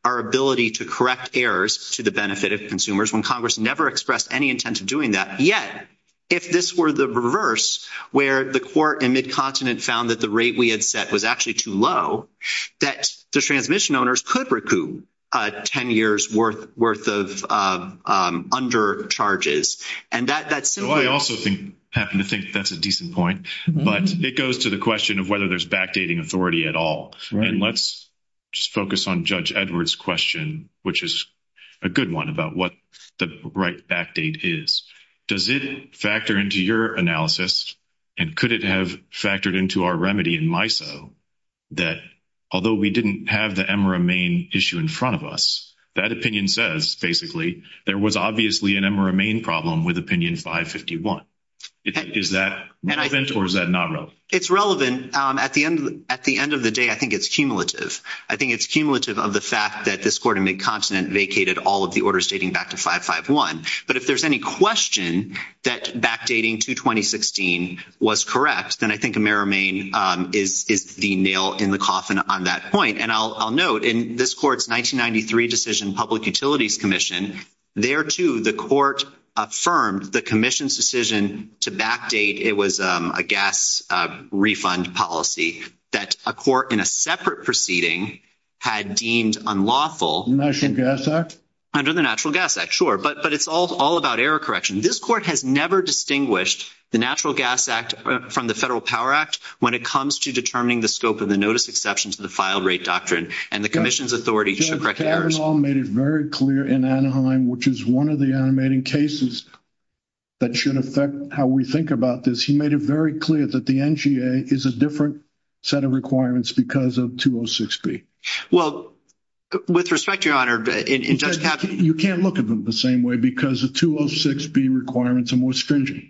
our ability to correct errors to the benefit of consumers, when Congress never expressed any intent of doing that, yet, if this were the reverse, where the Court in Mid-Continent found that the rate we had set was actually too low, that the transmission owners could recoup 10 years' worth of undercharges. And that's— Well, I also happen to think that's a decent point, but it goes to the question of whether there's backdating authority at all. And let's just focus on Judge Edwards' question, which is a good one, about what the right backdate is. Does it factor into your analysis, and could it have factored into our remedy in MISO, that although we didn't have the Emmer and Main issue in front of us, that opinion says, basically, there was obviously an Emmer and Main problem with Opinion 551. Is that relevant, or is that not relevant? It's relevant. And at the end of the day, I think it's cumulative. I think it's cumulative of the fact that this Court in Mid-Continent vacated all of the orders dating back to 551. But if there's any question that backdating to 2016 was correct, then I think Emmer and Main is the nail in the coffin on that point. And I'll note, in this Court's 1993 decision, Public Utilities Commission, there, too, the Court affirmed the Commission's decision to backdate it was a gas refund policy that a Court in a separate proceeding had deemed unlawful. Under the Natural Gas Act? Under the Natural Gas Act, sure. But it's all about error correction. This Court has never distinguished the Natural Gas Act from the Federal Power Act when it comes to determining the scope of the notice exception to the file rate doctrine. And the Commission's authority should correct errors. Mr. Bernal made it very clear in Anaheim, which is one of the animating cases that should affect how we think about this, he made it very clear that the NGA is a different set of requirements because of 206B. Well, with respect, Your Honor, in just having... You can't look at them the same way because the 206B requirements are more stringent.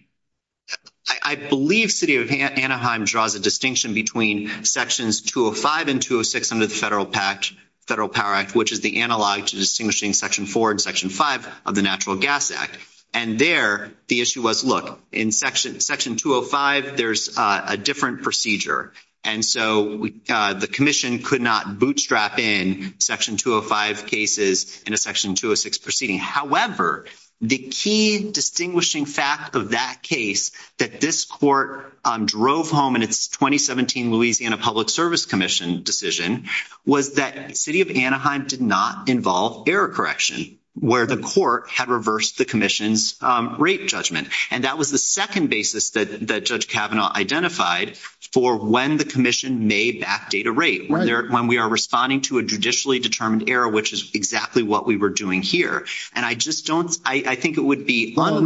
I believe City of Anaheim draws a distinction between Sections 205 and 206 under the Federal Power Act, which is the analog to distinguishing Section 4 and Section 5 of the Natural Gas Act. And there, the issue was, look, in Section 205, there's a different procedure. And so the Commission could not bootstrap in Section 205 cases in a Section 206 proceeding. However, the key distinguishing fact of that case that this Court drove home in its 2017 Louisiana Public Service Commission decision was that City of Anaheim did not involve error correction, where the Court had reversed the Commission's rate judgment. And that was the second basis that Judge Kavanaugh identified for when the Commission may backdate a rate, when we are responding to a judicially determined error, which is exactly what we were doing here. And I just don't... I think it would be... I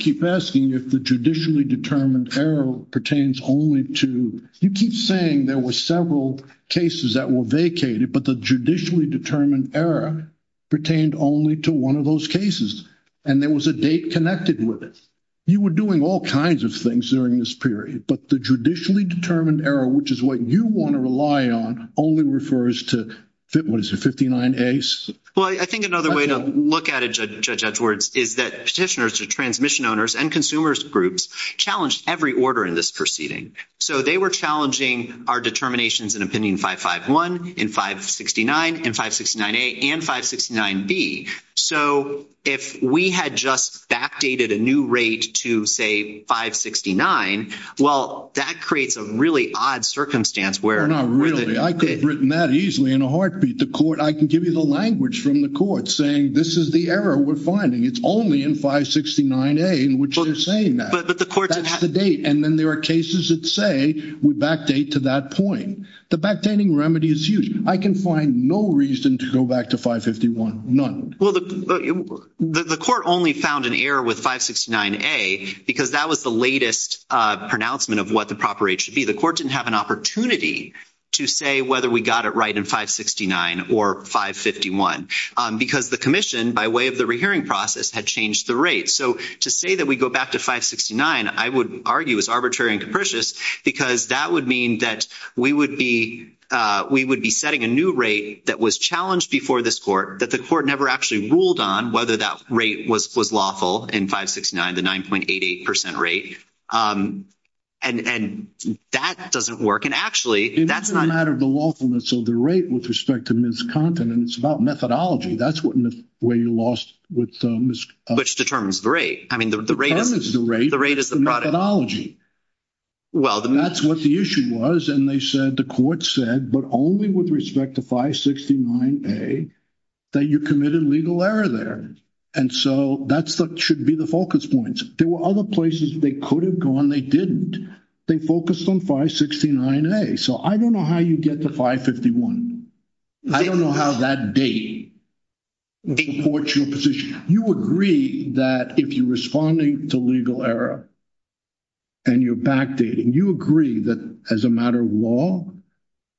keep asking if the judicially determined error pertains only to... You keep saying there were several cases that were vacated, but the judicially determined error pertained only to one of those cases, and there was a date connected with it. You were doing all kinds of things during this period, but the judicially determined error, which is what you want to rely on, only refers to, what is it, 59As? Well, I think another way to look at it, Judge Edwards, is that petitioners, the transmission owners, and consumers groups challenged every order in this proceeding. So they were challenging our determinations in Opinion 551, in 569, in 569A, and 569B. So if we had just backdated a new rate to, say, 569, well, that creates a really odd circumstance where... No, really. I could have written that easily in a heartbeat. The court... I can give you the language from the court saying, this is the error we're finding. It's only in 569A in which they're saying that. But the court... That's the date. And then there are cases that say we backdate to that point. The backdating remedy is huge. I can find no reason to go back to 551. Well, the court only found an error with 569A because that was the latest pronouncement of what the proper rate should be. So the court didn't have an opportunity to say whether we got it right in 569 or 551 because the commission, by way of the rehearing process, had changed the rate. So to say that we go back to 569, I would argue is arbitrary and capricious because that would mean that we would be setting a new rate that was challenged before this court that the court never actually ruled on whether that rate was lawful in 569, the 9.88% rate. And that doesn't work. And actually, that's not... It's a matter of the lawfulness of the rate with respect to miscompetence about methodology. That's where you lost with miscompetence. Which determines the rate. I mean, the rate is the rate. The rate is the product. Well, the... That's what the issue was. And they said, the court said, but only with respect to 569A, that you committed legal error there. And so that should be the focus points. There were other places they could have gone. They didn't. They focused on 569A. So I don't know how you get to 551. I don't know how that date imports your position. You agree that if you're responding to legal error and you're backdating, you agree that as a matter of law,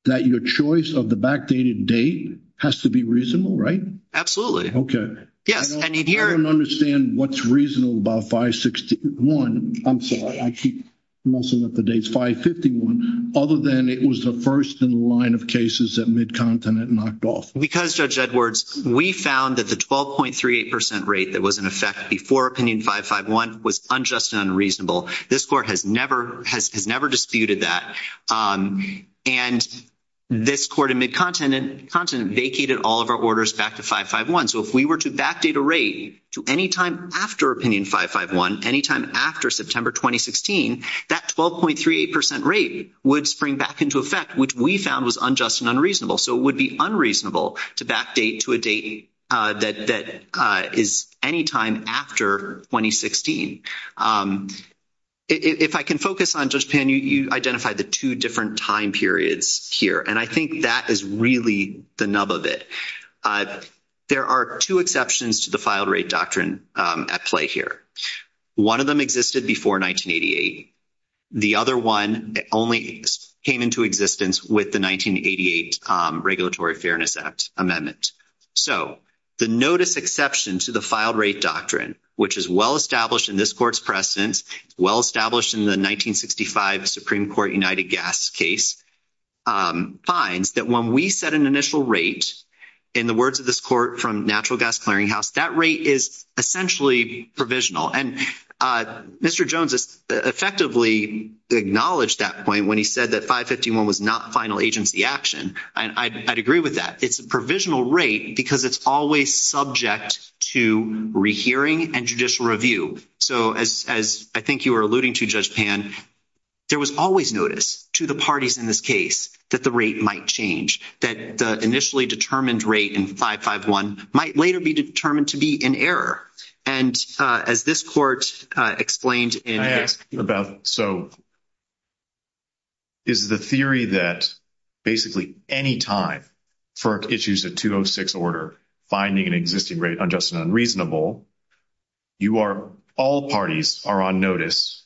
that your choice of the backdated date has to be reasonable, right? Absolutely. Okay. I don't understand what's reasonable about 561. I'm sorry. I keep messing up the dates. 551. Other than it was the first in the line of cases that Mid-Continent knocked off. Because, Judge Edwards, we found that the 12.38% rate that was in effect before opinion 551 was unjust and unreasonable. This court has never disputed that. And this court in Mid-Continent vacated all of our orders back to 551. So if we were to backdate a rate to any time after opinion 551, any time after September 2016, that 12.38% rate would spring back into effect, which we found was unjust and unreasonable. So it would be unreasonable to backdate to a date that is any time after 2016. If I can focus on, Judge Pan, you identified the two different time periods here. And I think that is really the nub of it. There are two exceptions to the Filed Rate Doctrine at play here. One of them existed before 1988. The other one only came into existence with the 1988 Regulatory Fairness Act amendment. So the notice exception to the Filed Rate Doctrine, which is well established in this court's precedence, well established in the 1965 Supreme Court United Gas case, finds that when we set an initial rate, in the words of this court from Natural Gas Clearinghouse, that rate is essentially provisional. And Mr. Jones effectively acknowledged that point when he said that 551 was not final agency action. And I'd agree with that. It's a provisional rate because it's always subject to rehearing and judicial review. So as I think you were alluding to, Judge Pan, there was always notice to the parties in this case that the rate might change, that the initially determined rate in 551 might later be determined to be in error. And as this court explained in- I asked about, so, is the theory that basically any time for issues of 206 order, finding an existing rate unjust and unreasonable, you are- all parties are on notice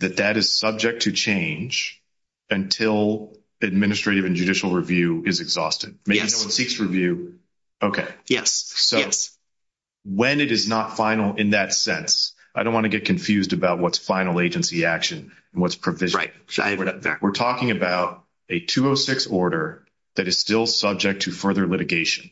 that that is subject to change until administrative and judicial review is exhausted? Yes. Okay. Yes. So when it is not final in that sense, I don't want to get confused about what's final agency action and what's provisional. Right. We're talking about a 206 order that is still subject to further litigation.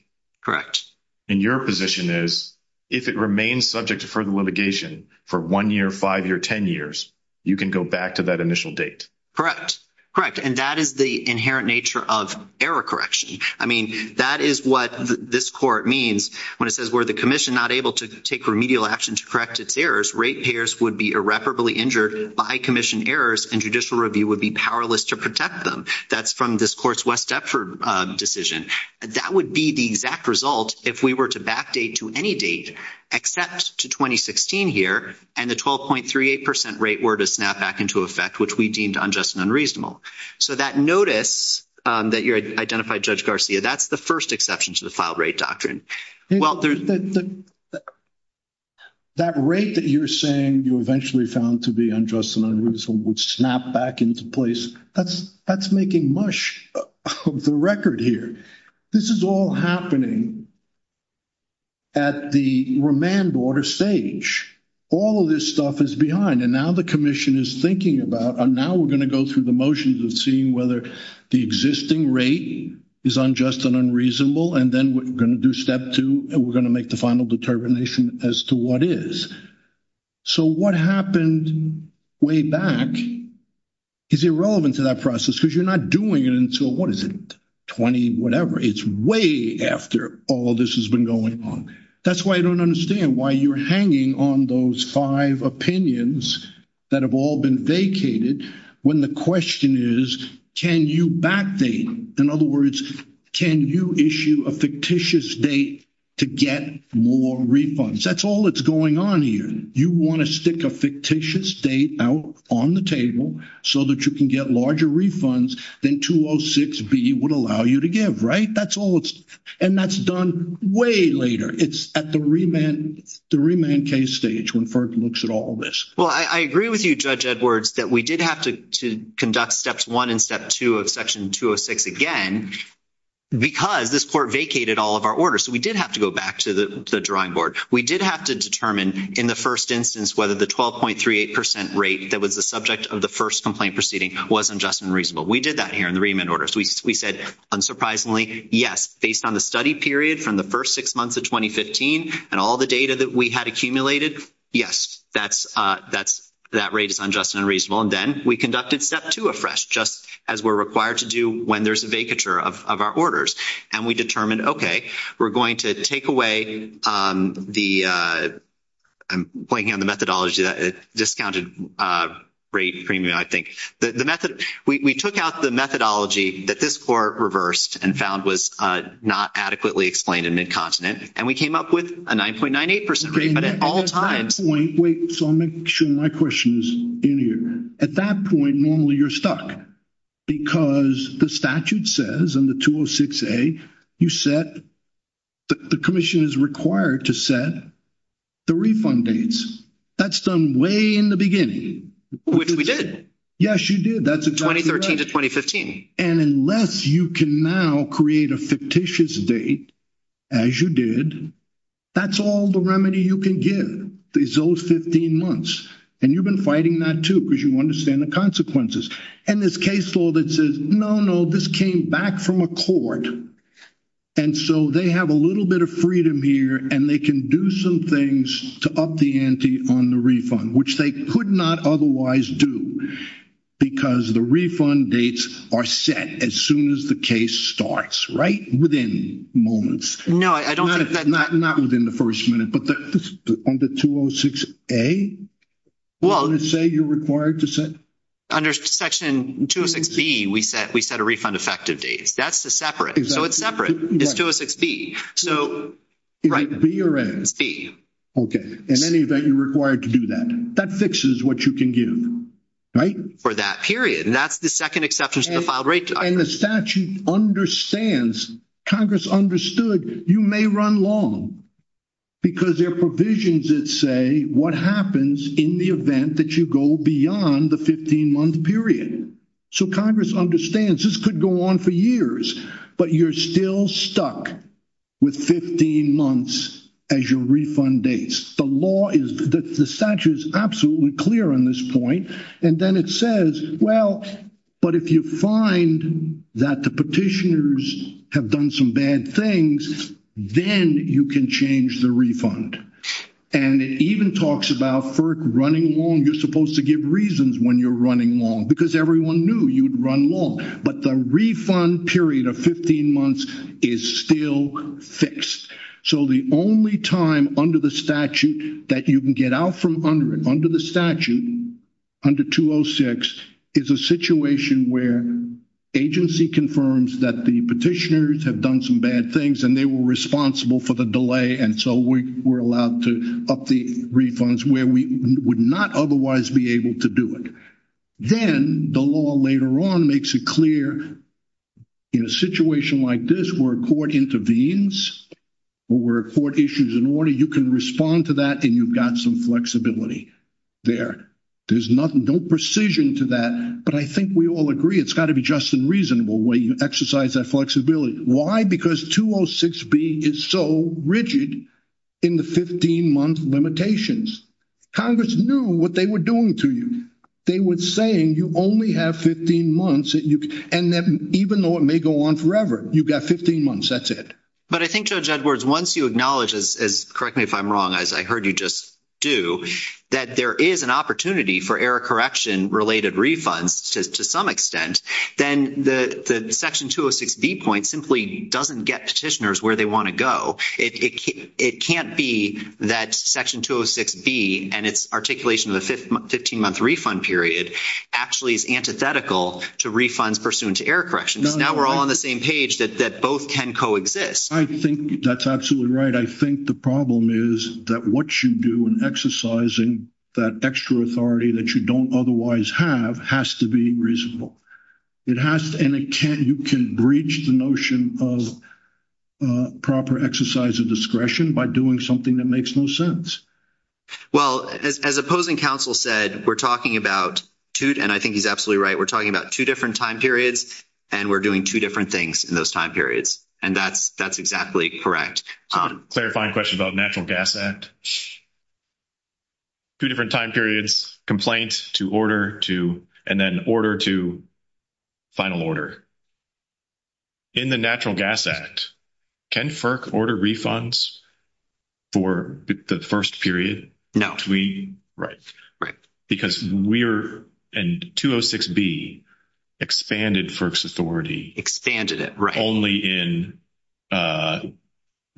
And your position is if it remains subject to further litigation for 1 year, 5 year, 10 years, you can go back to that initial date. Correct. Correct. And that is the inherent nature of error correction. I mean, that is what this court means when it says, were the commission not able to take remedial action to correct its errors, rate payers would be irreparably injured by commission errors, and judicial review would be powerless to protect them. That's from this course West Dept decision. That would be the exact result if we were to backdate to any date except to 2016 here, and the 12.38% rate were to snap back into effect, which we deemed unjust and unreasonable. So that notice that you identified, Judge Garcia, that's the first exception to the filed rate doctrine. That rate that you're saying you eventually found to be unjust and unreasonable would snap back into place, that's making much of the record here. This is all happening at the remand order stage. All of this stuff is behind, and now the commission is thinking about, and now we're going to go through the motions and see whether the existing rate is unjust and unreasonable, and then we're going to do step two, and we're going to make the final determination as to what is. So what happened way back is irrelevant to that process, because you're not doing it until, what is it, 20 whatever. It's way after all this has been going on. That's why I don't understand why you're hanging on those five opinions that have all been vacated, when the question is, can you backdate? In other words, can you issue a fictitious date to get more refunds? That's all that's going on here. You want to stick a fictitious date out on the table so that you can get larger refunds than 206B would allow you to give, right? And that's done way later. It's at the remand case stage when FERC looks at all this. Well, I agree with you, Judge Edwards, that we did have to conduct steps one and step two of section 206 again, because this court vacated all of our orders, so we did have to go back to the drawing board. We did have to determine in the first instance whether the 12.38% rate that was the subject of the first complaint proceeding was unjust and reasonable. We did that here in the remand order, so we said, unsurprisingly, yes. Based on the study period from the first six months of 2015 and all the data that we had accumulated, yes. That rate is unjust and unreasonable. And then we conducted step two afresh, just as we're required to do when there's a vacature of our orders, and we determined, okay, we're going to take away the ‑‑ I'm pointing out the methodology, the discounted rate premium, I think. We took out the methodology that this court reversed and found was not adequately explained in Mid-Continent, and we came up with a 9.98% rate at all times. Wait, so I'm making sure my question is in here. At that point, normally you're stuck, because the statute says in the 206A, you set ‑‑ the commission is required to set the refund dates. That's done way in the beginning. Which we did. Yes, you did. That's exactly right. 2013 to 2015. And unless you can now create a fictitious date, as you did, that's all the remedy you can give, these old 15 months. And you've been fighting that, too, because you understand the consequences. And this case law that says, no, no, this came back from a court, and so they have a little bit of freedom here, and they can do some things to up the ante on the refund, which they could not otherwise do, because the refund dates are set as soon as the case starts. Right? Within moments. No, I don't think that ‑‑ Not within the first minute. But on the 206A, would it say you're required to set? Under Section 206B, we set a refund effective date. That's the separate. So it's separate. It's 206B. Is it B or A? It's B. Okay. In any event, you're required to do that. That fixes what you can give. For that period. And that's the second exception to the file, right? And the statute understands, Congress understood, you may run long, because there are provisions that say what happens in the event that you go beyond the 15‑month period. So Congress understands this could go on for years. But you're still stuck with 15 months as your refund dates. The law is ‑‑ the statute is absolutely clear on this point. And then it says, well, but if you find that the petitioners have done some bad things, then you can change the refund. And it even talks about FERC running long. You're supposed to give reasons when you're running long, because everyone knew you'd run long. But the refund period of 15 months is still fixed. So the only time under the statute that you can get out from under the statute, under 206, is a situation where agency confirms that the petitioners have done some bad things and they were responsible for the delay, and so we're allowed to up the refunds, where we would not otherwise be able to do it. Then the law later on makes it clear in a situation like this where a court intervenes or where a court issues an order, you can respond to that and you've got some flexibility there. There's no precision to that, but I think we all agree it's got to be just and reasonable the way you exercise that flexibility. Why? Because 206B is so rigid in the 15‑month limitations. Congress knew what they were doing to you. They were saying you only have 15 months, and even though it may go on forever, you've got 15 months, that's it. But I think, Judge Edwards, once you acknowledge, correct me if I'm wrong, as I heard you just do, that there is an opportunity for error correction related refunds to some extent, then the Section 206B point simply doesn't get petitioners where they want to go. It can't be that Section 206B and its articulation of the 15‑month refund period actually is antithetical to refunds pursuant to error correction. Now we're all on the same page that both can coexist. I think that's absolutely right. I think the problem is that what you do in exercising that extra authority that you don't otherwise have has to be reasonable. And you can breach the notion of proper exercise of discretion by doing something that makes no sense. Well, as opposing counsel said, we're talking about, and I think he's absolutely right, we're talking about two different time periods, and we're doing two different things in those time periods. And that's exactly correct. Clarifying question about the Natural Gas Act. Two different time periods, complaint to order to, and then order to final order. In the Natural Gas Act, can FERC order refunds for the first period? No. Right. Right. Because we're, and 206B expanded FERC's authority. Expanded it, right. Only in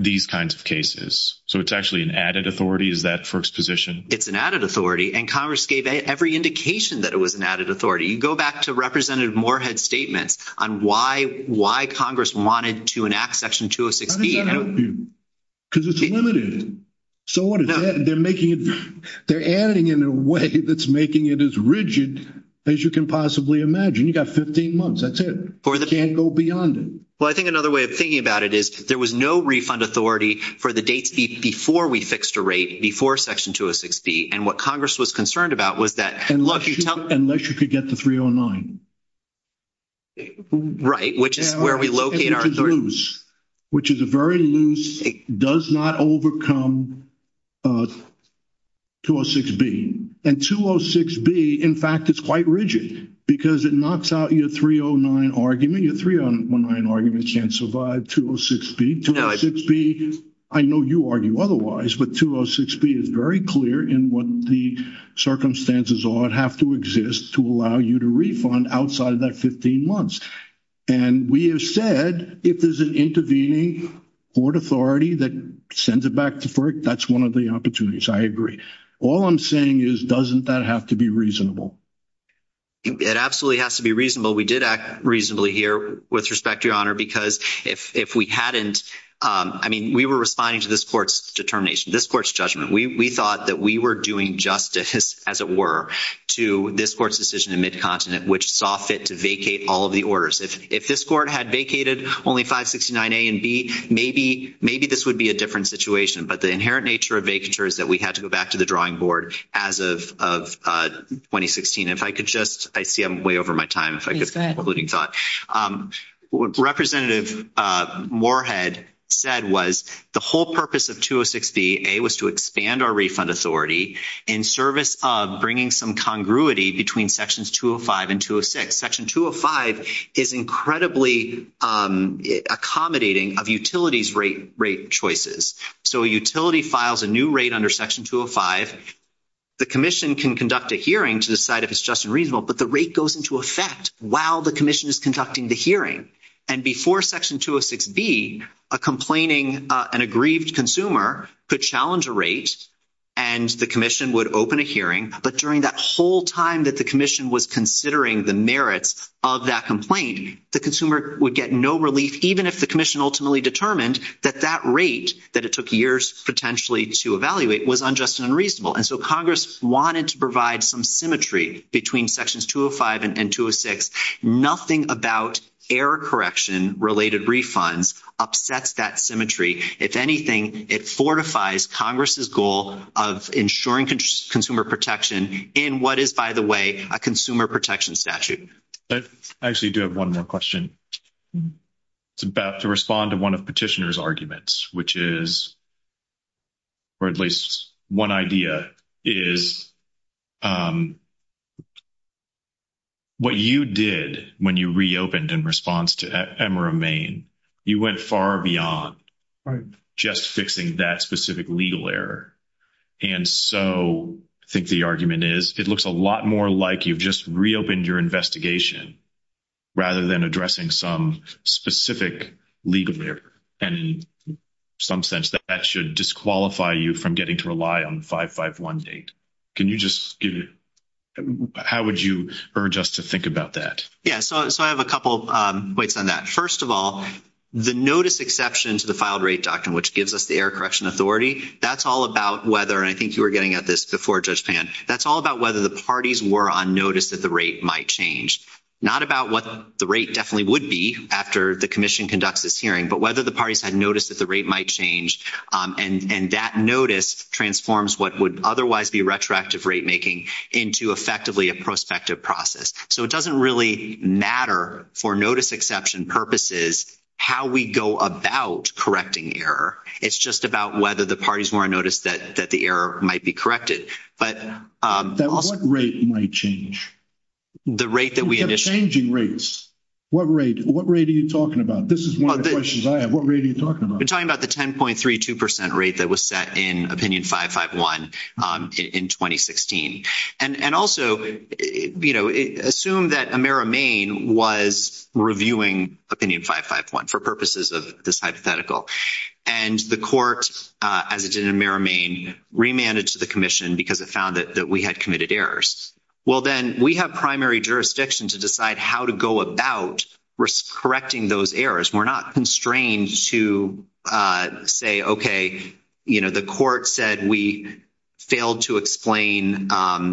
these kinds of cases. So it's actually an added authority? Is that FERC's position? It's an added authority, and Congress gave every indication that it was an added authority. You go back to Representative Moorhead's statement on why Congress wanted to enact Section 206B. How does that help you? Because it's limited. So what is that? They're adding in a way that's making it as rigid as you can possibly imagine. You've got 15 months. That's it. Can't go beyond it. Well, I think another way of thinking about it is there was no refund authority for the date before we fixed a rate, before Section 206B. And what Congress was concerned about was that- Unless you could get to 309. Right, which is where we locate our- Which is a very loose, does not overcome 206B. And 206B, in fact, is quite rigid because it knocks out your 309 argument. Your 309 argument can't survive 206B. 206B, I know you argue otherwise, but 206B is very clear in what the circumstances are and have to exist to allow you to refund outside of that 15 months. And we have said if there's an intervening board authority that sends it back to FERC, that's one of the opportunities. I agree. All I'm saying is doesn't that have to be reasonable? It absolutely has to be reasonable. We did act reasonably here with respect, Your Honor, because if we hadn't- I mean, we were responding to this court's determination, this court's judgment. We thought that we were doing justice, as it were, to this court's decision in Mid-Continent, which saw fit to vacate all of the orders. If this court had vacated only 569A and B, maybe this would be a different situation. But the inherent nature of vacatures is that we had to go back to the drawing board as of 2016. If I could just-I see I'm way over my time. If I could have a mooting thought. What Representative Moorhead said was the whole purpose of 206B, A, was to expand our refund authority in service of bringing some congruity between Sections 205 and 206. Section 205 is incredibly accommodating of utilities' rate choices. So a utility files a new rate under Section 205. The commission can conduct a hearing to decide if it's just and reasonable, but the rate goes into effect while the commission is conducting the hearing. And before Section 206B, a complaining-an aggrieved consumer could challenge a rate, and the commission would open a hearing. But during that whole time that the commission was considering the merits of that complaint, the consumer would get no relief, even if the commission ultimately determined that that rate, that it took years potentially to evaluate, was unjust and unreasonable. And so Congress wanted to provide some symmetry between Sections 205 and 206. Nothing about error correction-related refunds upsets that symmetry. If anything, it fortifies Congress' goal of ensuring consumer protection in what is, by the way, a consumer protection statute. I actually do have one more question. It's about to respond to one of Petitioner's arguments, which is-or at least one idea-is, what you did when you reopened in response to Ephemera, Maine, you went far beyond just fixing that specific legal error. And so I think the argument is, it looks a lot more like you just reopened your investigation rather than addressing some specific legal error. And in some sense, that should disqualify you from getting to rely on a 551 date. Can you just give-how would you urge us to think about that? Yeah, so I have a couple points on that. First of all, the notice exception to the filed rate doctrine, which gives us the error correction authority, that's all about whether- and I think you were getting at this before, Judge Pan-that's all about whether the parties were on notice that the rate might change. Not about what the rate definitely would be after the commission conducts this hearing, but whether the parties had noticed that the rate might change. And that notice transforms what would otherwise be retroactive rate making into effectively a prospective process. So it doesn't really matter, for notice exception purposes, how we go about correcting the error. It's just about whether the parties were on notice that the error might be corrected. What rate might change? The rate that we- You said changing rates. What rate are you talking about? This is one of the questions I have. What rate are you talking about? We're talking about the 10.32% rate that was set in Opinion 551 in 2016. And also, you know, assume that Amera Maine was reviewing Opinion 551 for purposes of this hypothetical. And the court, as it did in Amera Maine, remanded to the commission because it found that we had committed errors. Well, then, we have primary jurisdiction to decide how to go about correcting those errors. We're not constrained to say, okay, you know, the court said we failed to explain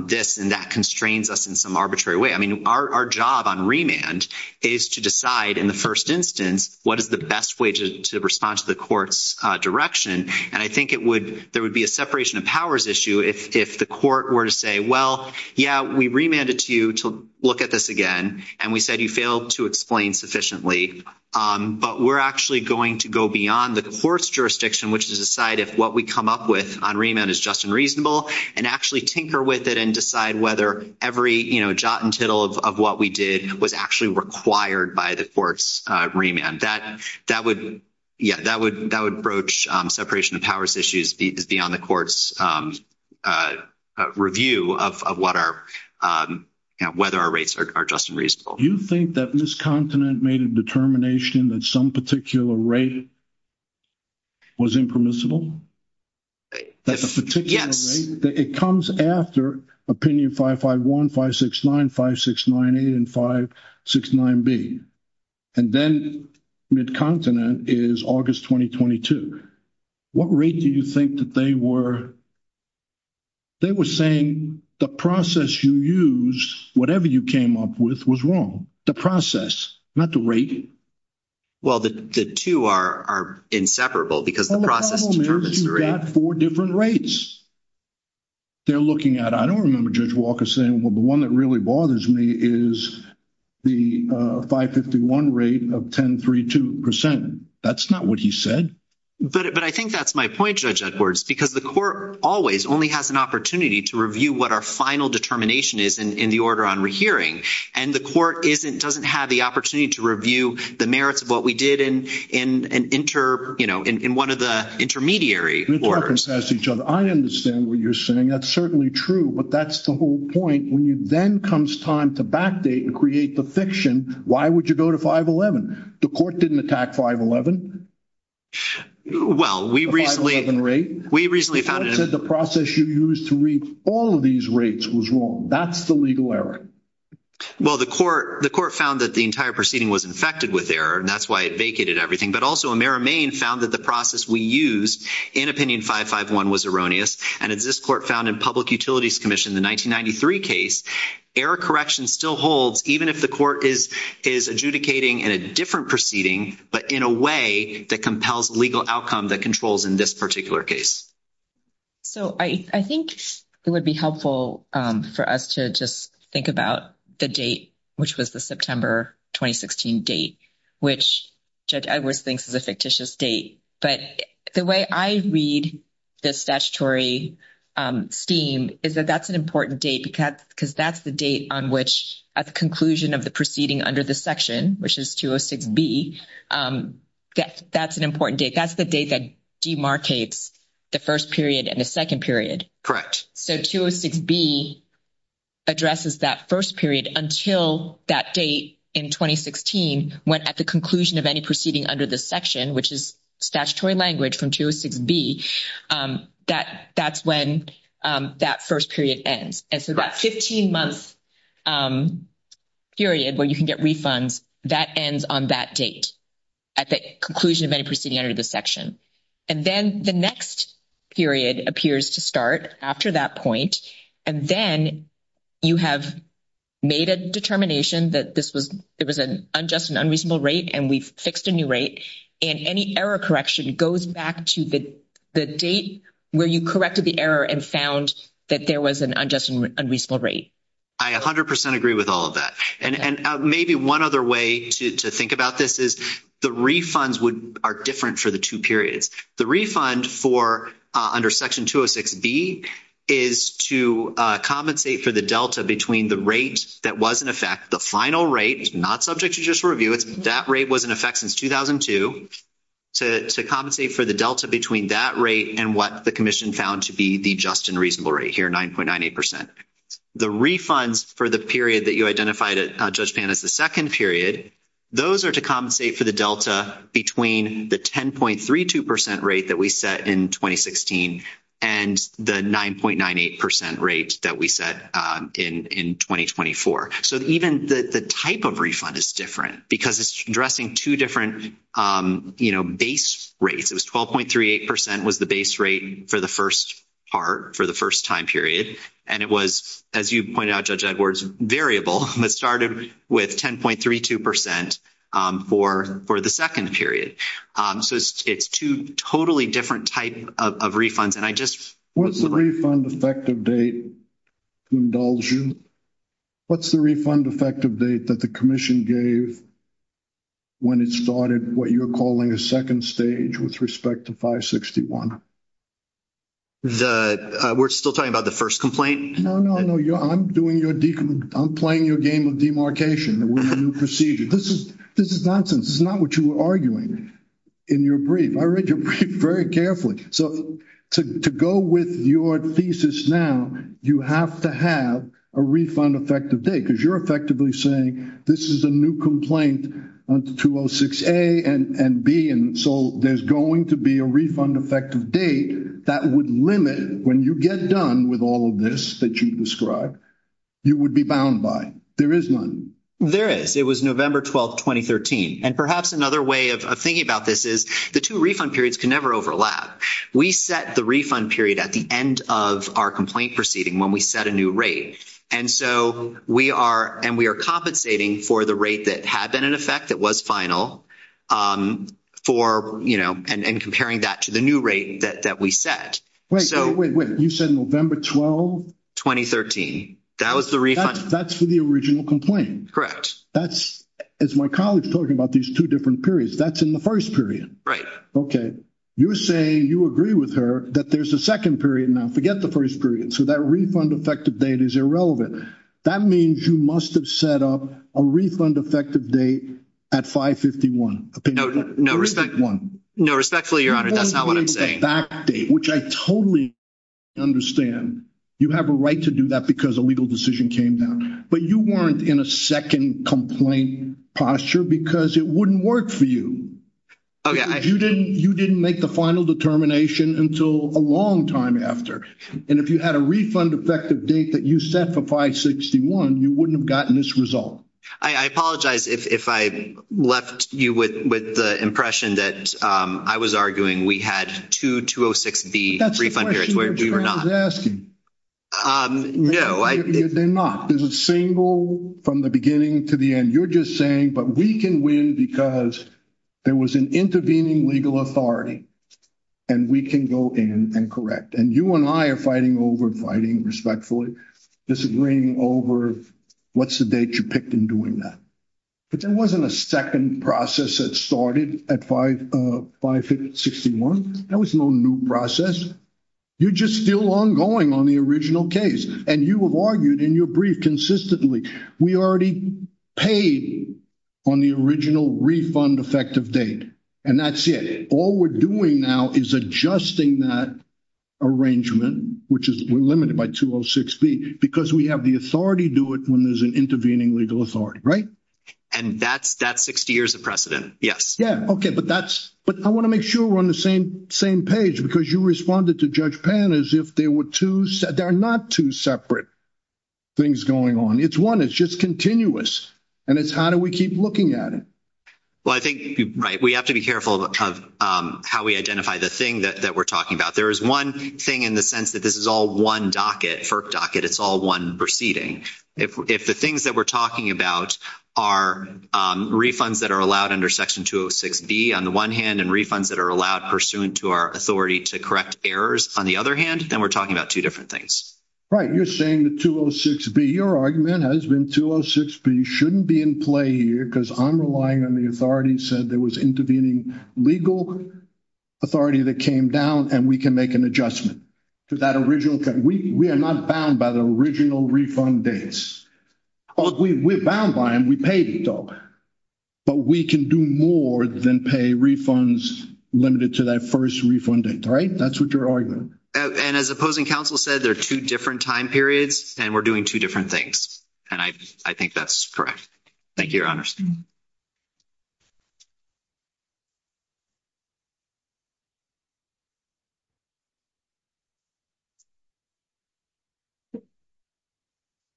this, and that constrains us in some arbitrary way. I mean, our job on remand is to decide in the first instance what is the best way to respond to the court's direction. And I think there would be a separation of powers issue if the court were to say, well, yeah, we remanded to you to look at this again. And we said you failed to explain sufficiently. But we're actually going to go beyond the court's jurisdiction, which is to decide if what we come up with on remand is just and reasonable, and actually tinker with it and decide whether every, you know, jot and tittle of what we did was actually required by the court's remand. That would, yeah, that would broach separation of powers issues beyond the court's review of what our, you know, whether our rates are just and reasonable. Do you think that Miscontinent made a determination that some particular rate was impermissible? Yes. It comes after opinion 551, 569, 569A, and 569B. And then Miscontinent is August 2022. What rate do you think that they were, they were saying the process you use, whatever you came up with, was wrong. The process, not the rate. Well, the two are inseparable because the process determines the rate. You've got four different rates they're looking at. I don't remember Judge Walker saying, well, the one that really bothers me is the 551 rate of 10.32%. That's not what he said. But I think that's my point, Judge Edwards, because the court always only has an opportunity to review what our final determination is in the order on rehearing. And the court doesn't have the opportunity to review the merits of what we did in an inter, you know, in one of the intermediary orders. I understand what you're saying. That's certainly true. But that's the whole point. When then comes time to backdate and create the fiction, why would you go to 511? The court didn't attack 511. Well, we recently. The 511 rate. We recently found it. I said the process you used to read all of these rates was wrong. That's the legal error. Well, the court, the court found that the entire proceeding was infected with error, and that's why it vacated everything. But also Amera Main found that the process we used in Opinion 551 was erroneous. And as this court found in Public Utilities Commission, the 1993 case, error correction still holds even if the court is adjudicating in a different proceeding, but in a way that compels legal outcome that controls in this particular case. So I think it would be helpful for us to just think about the date, which was the September 2016 date, which Judge Edwards thinks is a fictitious date. But the way I read this statutory scheme is that that's an important date because that's the date on which at the conclusion of the proceeding under this section, which is 206B, that's an important date. That's the date that demarcates the first period and the second period. Correct. So 206B addresses that first period until that date in 2016, when at the conclusion of any proceeding under this section, which is statutory language from 206B, that's when that first period ends. And so that 15-month period where you can get refunds, that ends on that date at the conclusion of any proceeding under this section. And then the next period appears to start after that point, and then you have made a determination that this was an unjust and unreasonable rate, and we've fixed a new rate. And any error correction goes back to the date where you corrected the error and found that there was an unjust and unreasonable rate. I 100% agree with all of that. And maybe one other way to think about this is the refunds are different for the two periods. The refund for under Section 206B is to compensate for the delta between the rate that was in effect, the final rate, not subject to judicial review, that rate was in effect since 2002, to compensate for the delta between that rate and what the commission found to be the just and reasonable rate here, 9.98%. The refunds for the period that you identified, Judge Pan, as the second period, those are to compensate for the delta between the 10.32% rate that we set in 2016 and the 9.98% rate that we set in 2024. So even the type of refund is different because it's addressing two different, you know, base rates. It was 12.38% was the base rate for the first part, for the first time period. And it was, as you pointed out, Judge Edwards, variable. It started with 10.32% for the second period. So it's two totally different types of refunds. What's the refund effective date, indulge you? What's the refund effective date that the commission gave when it started what you're calling a second stage with respect to 561? We're still talking about the first complaint? No, no, no. I'm playing your game of demarcation. This is nonsense. This is not what you were arguing in your brief. I read your brief very carefully. So to go with your thesis now, you have to have a refund effective date because you're effectively saying this is a new complaint on 206A and B, and so there's going to be a refund effective date that would limit when you get done with all of this that you've described, you would be bound by. There is none. There is. It was November 12, 2013. And perhaps another way of thinking about this is the two refund periods can never overlap. We set the refund period at the end of our complaint proceeding when we set a new rate, and so we are compensating for the rate that had been in effect that was final for, you know, and comparing that to the new rate that we set. Wait, wait, wait. You said November 12? 2013. That was the refund. That's for the original complaint. Correct. As my colleague is talking about these two different periods, that's in the first period. Right. Okay. You're saying you agree with her that there's a second period now. Forget the first period. So that refund effective date is irrelevant. That means you must have set up a refund effective date at 551. No, respectfully, Your Honor, that's not what I'm saying. Which I totally understand. You have a right to do that because a legal decision came down. But you weren't in a second complaint posture because it wouldn't work for you. Okay. You didn't make the final determination until a long time after. And if you had a refund effective date that you set for 561, you wouldn't have gotten this result. I apologize if I left you with the impression that I was arguing we had two 206B refund periods where we were not. That's what I was asking. No. They're not. There's a single from the beginning to the end. You're just saying, but we can win because there was an intervening legal authority. And we can go in and correct. And you and I are fighting over, fighting respectfully, disagreeing over what's the date you picked in doing that. But there wasn't a second process that started at 561. That was no new process. You're just still ongoing on the original case. And you have argued in your brief consistently we already paid on the original refund effective date. And that's it. All we're doing now is adjusting that arrangement, which is limited by 206B, because we have the authority to do it when there's an intervening legal authority. And that's 60 years of precedent. Yes. Yeah. Okay. But I want to make sure we're on the same page, because you responded to Judge Pan as if there were two, there are not two separate things going on. It's one. It's just continuous. And it's how do we keep looking at it. Well, I think, right, we have to be careful of how we identify the thing that we're talking about. There is one thing in the sense that this is all one docket, FERC docket. It's all one proceeding. If the things that we're talking about are refunds that are allowed under Section 206B on the one hand, and refunds that are allowed pursuant to our authority to correct errors on the other hand, then we're talking about two different things. Right. You're saying that 206B, your argument has been 206B shouldn't be in play here, because I'm relying on the authority that said there was intervening legal authority that came down, and we can make an adjustment to that original thing. We are not bound by the original refund dates. We're bound by them. We paid them. But we can do more than pay refunds limited to that first refund date. Right? That's what your argument is. And as opposing counsel said, there are two different time periods, and we're doing two different things. And I think that's correct. Thank you, Your Honor.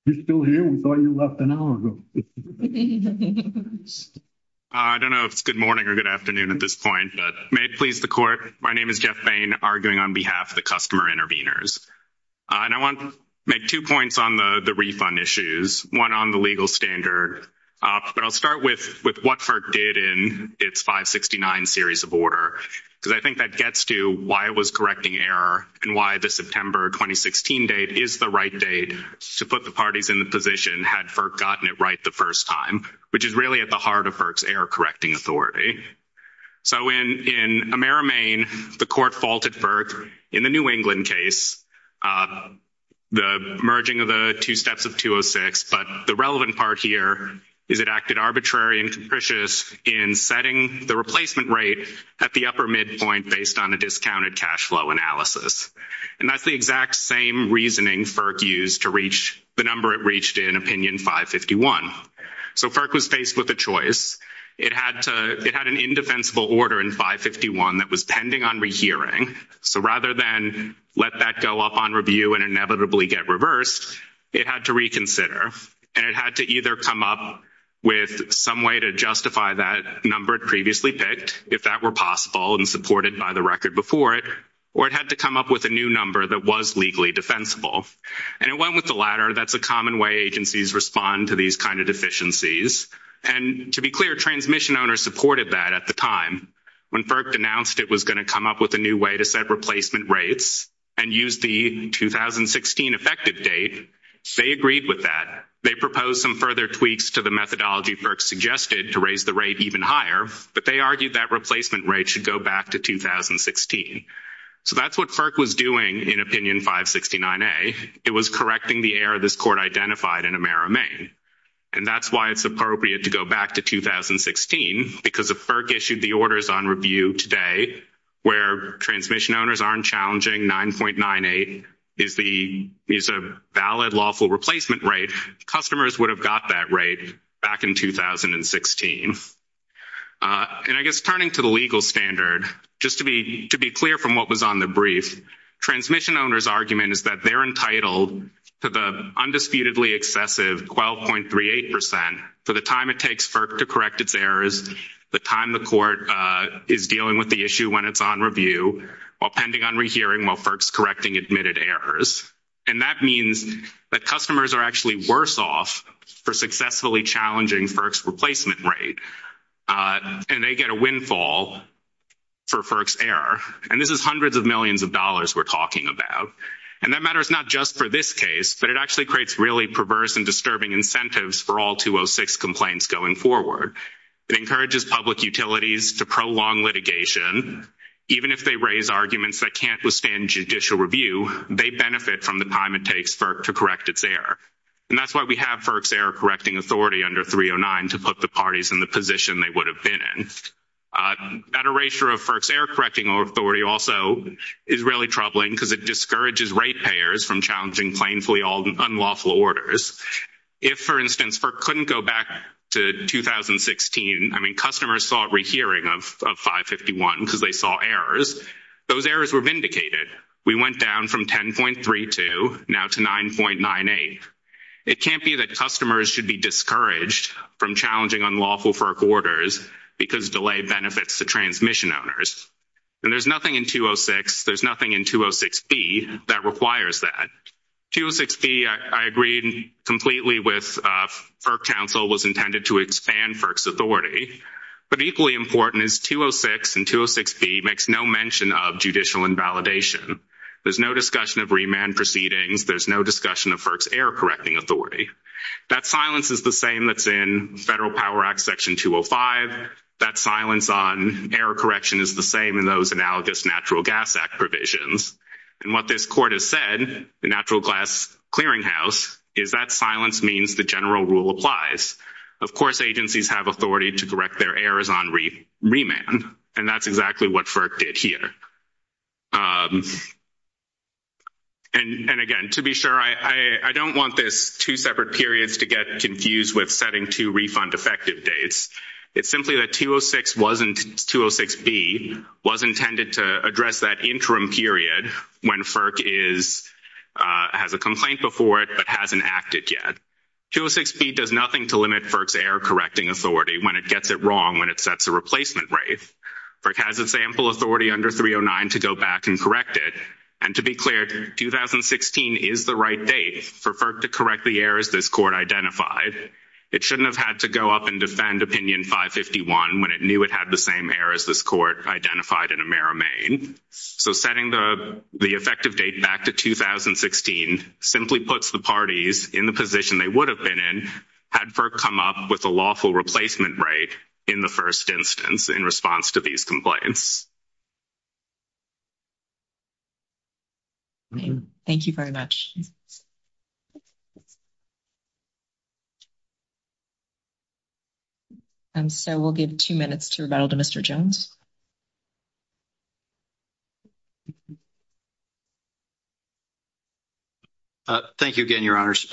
You're still here? We thought you left an hour ago. I don't know if it's good morning or good afternoon at this point. But may it please the Court, my name is Jeff Bain, arguing on behalf of the customer interveners. And I want to make two points on the refund issues, one on the legal standard. But I'll start with what FERC did in its 569 series of order, because I think that gets to why it was correcting error and why the September 2016 date is the right date to put the parties in the position had FERC gotten it right the first time, which is really at the heart of FERC's error-correcting authority. So in Amera, Maine, the Court faulted FERC in the New England case, the merging of the two steps of 206. But the relevant part here is it acted arbitrary and capricious in setting the replacement rate at the upper midpoint based on a discounted cash flow analysis. And that's the exact same reasoning FERC used to reach the number it reached in Opinion 551. So FERC was faced with a choice. It had an indefensible order in 551 that was pending on rehearing. So rather than let that go up on review and inevitably get reversed, it had to reconsider. And it had to either come up with some way to justify that number it previously picked, if that were possible and supported by the record before it, or it had to come up with a new number that was legally defensible. And it went with the latter. That's a common way agencies respond to these kind of deficiencies. And to be clear, transmission owners supported that at the time. When FERC denounced it was going to come up with a new way to set replacement rates and use the 2016 effective date, they agreed with that. They proposed some further tweaks to the methodology FERC suggested to raise the rate even higher. But they argued that replacement rate should go back to 2016. So that's what FERC was doing in Opinion 569A. It was correcting the error this Court identified in Amera, Maine. And that's why it's appropriate to go back to 2016. Because if FERC issued the orders on review today where transmission owners aren't challenging 9.98 as a valid lawful replacement rate, customers would have got that rate back in 2016. And I guess turning to the legal standard, just to be clear from what was on the brief, transmission owners' argument is that they're entitled to the undisputedly excessive 12.38% for the time it takes FERC to correct its errors, the time the Court is dealing with the issue when it's on review, while pending on rehearing while FERC's correcting admitted errors. And that means that customers are actually worse off for successfully challenging FERC's replacement rate. And they get a windfall for FERC's error. And this is hundreds of millions of dollars we're talking about. And that matters not just for this case, but it actually creates really perverse and disturbing incentives for all 206 complaints going forward. It encourages public utilities to prolong litigation. Even if they raise arguments that can't withstand judicial review, they benefit from the time it takes FERC to correct its error. And that's why we have FERC's error-correcting authority under 309 to put the parties in the position they would have been in. That erasure of FERC's error-correcting authority also is really troubling because it discourages ratepayers from challenging plainfully unlawful orders. If, for instance, FERC couldn't go back to 2016, I mean, customers saw a rehearing of 551 because they saw errors. Those errors were vindicated. We went down from 10.32 now to 9.98. It can't be that customers should be discouraged from challenging unlawful FERC orders because of delayed benefits to transmission owners. And there's nothing in 206, there's nothing in 206B that requires that. 206B, I agree completely with FERC counsel, was intended to expand FERC's authority. But equally important is 206 and 206B makes no mention of judicial invalidation. There's no discussion of remand proceedings. There's no discussion of FERC's error-correcting authority. That silence is the same that's in Federal Power Act Section 205. That silence on error correction is the same in those analogous Natural Gas Act provisions. And what this court has said, the Natural Gas Clearinghouse, is that silence means the general rule applies. Of course, agencies have authority to correct their errors on remand, and that's exactly what FERC did here. And, again, to be sure, I don't want this two separate periods to get confused with setting two refund effective dates. It's simply that 206B was intended to address that interim period when FERC has a complaint before it but hasn't acted yet. 206B does nothing to limit FERC's error-correcting authority when it gets it wrong when it sets a replacement rate. FERC has a sample authority under 309 to go back and correct it. And to be clear, 2016 is the right date for FERC to correct the errors this court identified. It shouldn't have had to go up and defend Opinion 551 when it knew it had the same error as this court identified in AmeriMaine. So setting the effective date back to 2016 simply puts the parties in the position they would have been in had FERC come up with a lawful replacement rate in the first instance in response to these complaints. Thank you very much. And so we'll give two minutes to rebuttal to Mr. Jones. Thank you again, Your Honors.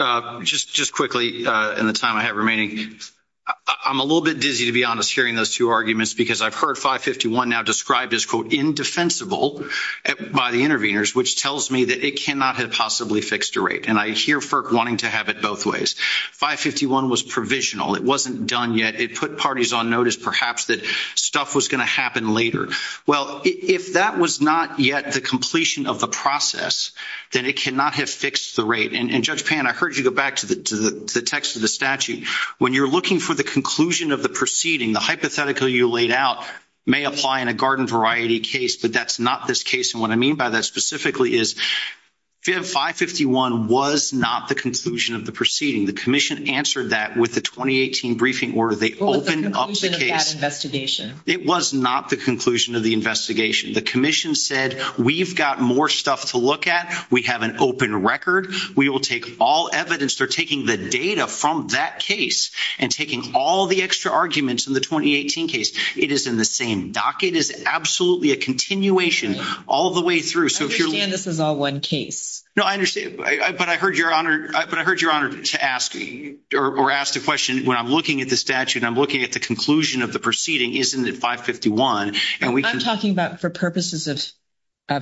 Just quickly in the time I have remaining, I'm a little bit dizzy, to be honest, sharing those two arguments because I've heard 551 now described as, quote, indefensible by the interveners, which tells me that it cannot have possibly fixed a rate. And I hear FERC wanting to have it both ways. 551 was provisional. It wasn't done yet. It put parties on notice, perhaps, that stuff was going to happen later. Well, if that was not yet the completion of the process, then it cannot have fixed the rate. And, Judge Pan, I heard you go back to the text of the statute. When you're looking for the conclusion of the proceeding, the hypothetical you laid out may apply in a garden variety case, but that's not this case. And what I mean by that specifically is 551 was not the conclusion of the proceeding. The Commission answered that with the 2018 briefing order. They opened up the case. It was not the conclusion of the investigation. The Commission said, we've got more stuff to look at. We have an open record. We will take all evidence. They're taking the data from that case and taking all the extra arguments in the 2018 case. It is in the same docket. It is absolutely a continuation all the way through. I understand this is all one case. No, I understand. But I heard Your Honor ask the question, when I'm looking at the statute, I'm looking at the conclusion of the proceeding, isn't it 551? I'm talking about for purposes of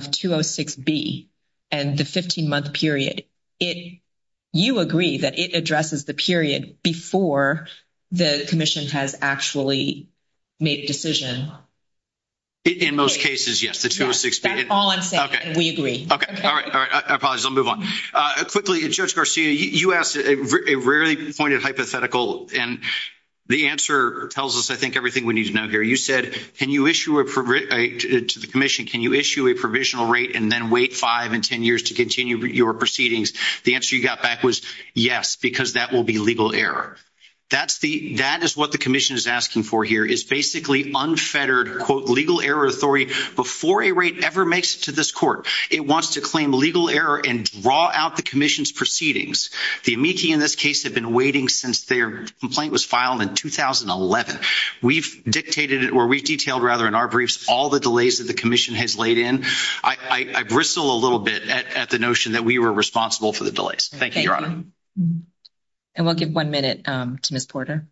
206B and the 15-month period. You agree that it addresses the period before the Commission has actually made a decision? In most cases, yes. That's all I'm saying. We agree. I apologize. I'll move on. Quickly, Judge Garcia, you asked a rarely pointed hypothetical, and the answer tells us, I think, everything we need to know here. You said, to the Commission, can you issue a provisional rate and then wait five and ten years to continue your proceedings? The answer you got back was yes, because that will be legal error. That is what the Commission is asking for here, is basically unfettered, quote, legal error authority. Before a rate ever makes it to this Court, it wants to claim legal error and draw out the Commission's proceedings. The amici in this case have been waiting since their complaint was filed in 2011. We've dictated, or we've detailed, rather, in our briefs, all the delays that the Commission has laid in. I bristle a little bit at the notion that we were responsible for the delays. Thank you, Your Honor. We'll give one minute to Ms. Porter.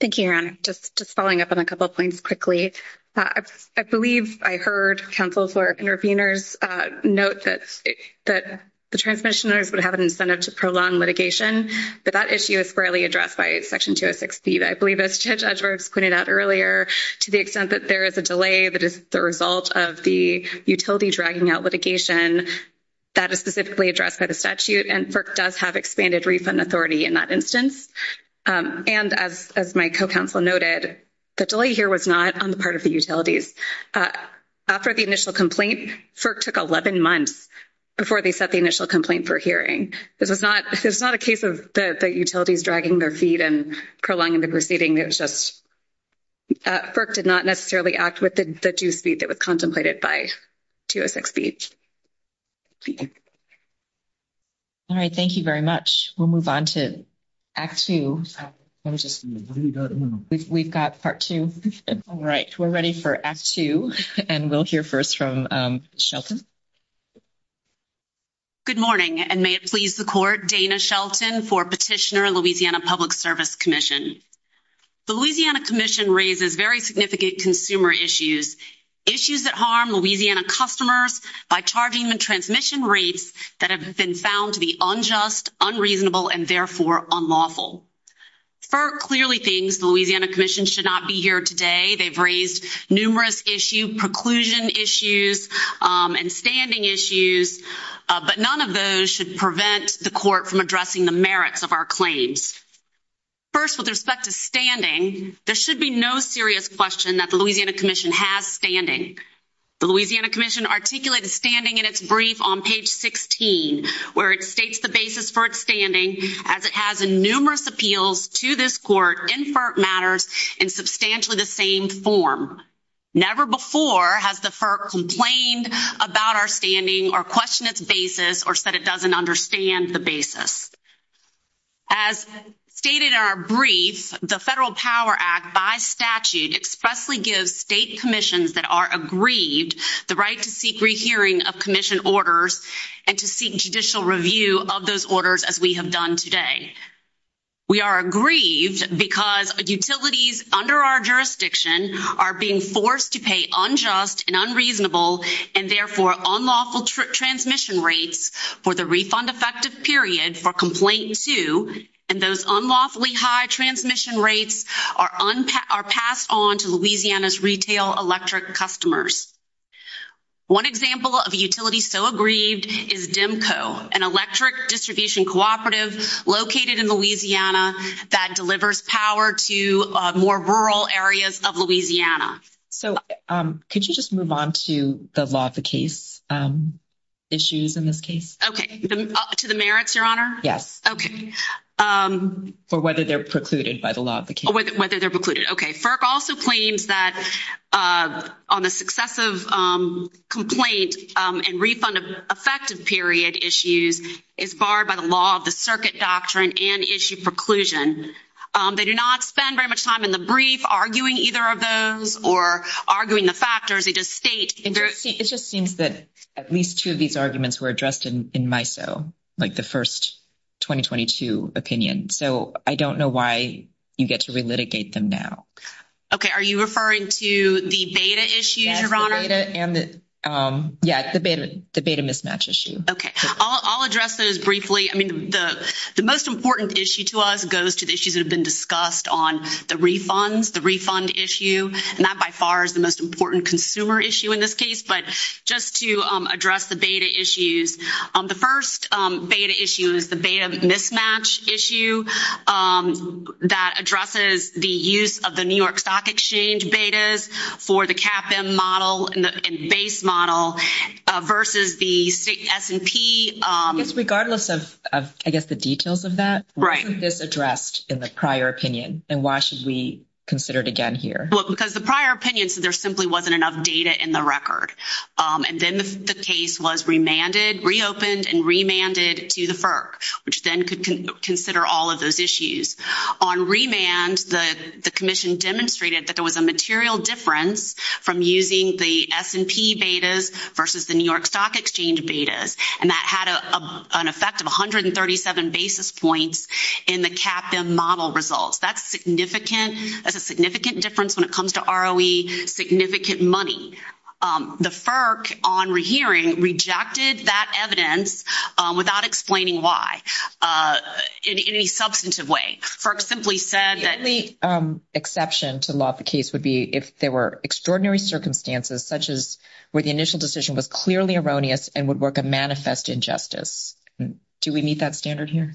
Thank you, Your Honor. Just following up on a couple points quickly. I believe I heard counsels or interveners note that the transmissioners would have an incentive to prolong litigation, but that issue is fairly addressed by Section 206B. I believe, as Judge Rooks pointed out earlier, to the extent that there is a delay that is the result of the utility dragging out litigation, that is specifically addressed by the statute, and FERC does have expanded refund authority in that instance. And as my co-counsel noted, the delay here was not on the part of the utilities. After the initial complaint, FERC took 11 months before they set the initial complaint for hearing. It was not a case of the utilities dragging their feet and prolonging the proceeding. It was just FERC did not necessarily act with the due speed that was contemplated by 206B. All right. Thank you very much. We'll move on to Act 2. We've got Part 2. All right. We're ready for Act 2, and we'll hear first from Shelton. Good morning, and may it please the Court, Dana Shelton for Petitioner Louisiana Public Service Commission. The Louisiana Commission raises very significant consumer issues, issues that harm Louisiana customers by charging the transmission rates that have been found to be unjust, unreasonable, and therefore unlawful. FERC clearly thinks the Louisiana Commission should not be here today. They've raised numerous issues, preclusion issues, and standing issues, but none of those should prevent the Court from addressing the merits of our claims. First, with respect to standing, there should be no serious question that the Louisiana Commission has standing. The Louisiana Commission articulated standing in its brief on page 16, where it states the basis for its standing, as it has numerous appeals to this Court in FERC matters in substantially the same form. Never before has the FERC complained about our standing or questioned its basis or said it doesn't understand the basis. As stated in our brief, the Federal Power Act, by statute, expressly gives state commissions that are aggrieved the right to seek rehearing of commission orders and to seek judicial review of those orders, as we have done today. We are aggrieved because utilities under our jurisdiction are being forced to pay unjust and unreasonable and therefore unlawful transmission rates for the refund-effective period for Complaint 2, and those unlawfully high transmission rates are passed on to Louisiana's retail electric customers. One example of a utility so aggrieved is DEMCO, an electric distribution cooperative located in Louisiana that delivers power to more rural areas of Louisiana. So could you just move on to the law of the case issues in this case? Okay. To the merits, Your Honor? Yes. Okay. For whether they're precluded by the law of the case. Whether they're precluded. Okay. FERC also claims that on a successive complaint and refund-effective period of the case issues is barred by the law of the circuit doctrine and issue preclusion. They do not spend very much time in the brief arguing either of those or arguing the factors. It just seems that at least two of these arguments were addressed in MISO, like the first 2022 opinion. So I don't know why you get to relitigate them now. Okay. Are you referring to the beta issue, Your Honor? Yeah, it's the beta mismatch issue. Okay. I'll address those briefly. I mean, the most important issue to us goes to the issues that have been discussed on the refund, the refund issue. And that by far is the most important consumer issue in this case. But just to address the beta issues, the first beta issue is the beta mismatch issue that addresses the use of the base model versus the S&P. It's regardless of, I guess, the details of that. Right. Why was this addressed in the prior opinion? And why should we consider it again here? Well, because the prior opinion said there simply wasn't enough data in the And then the case was remanded, reopened, and remanded to the FERC, which then could consider all of those issues. On remand, the commission demonstrated that there was a material difference from using the S&P betas versus the New York Stock Exchange betas. And that had an effect of 137 basis points in the CAPM model results. That's significant. That's a significant difference when it comes to ROE, significant money. The FERC on rehearing rejected that evidence without explaining why in any substantive way. FERC simply said that The only exception to loss of case would be if there were extraordinary circumstances such as where the initial decision was clearly erroneous and would work a manifest injustice. Do we meet that standard here?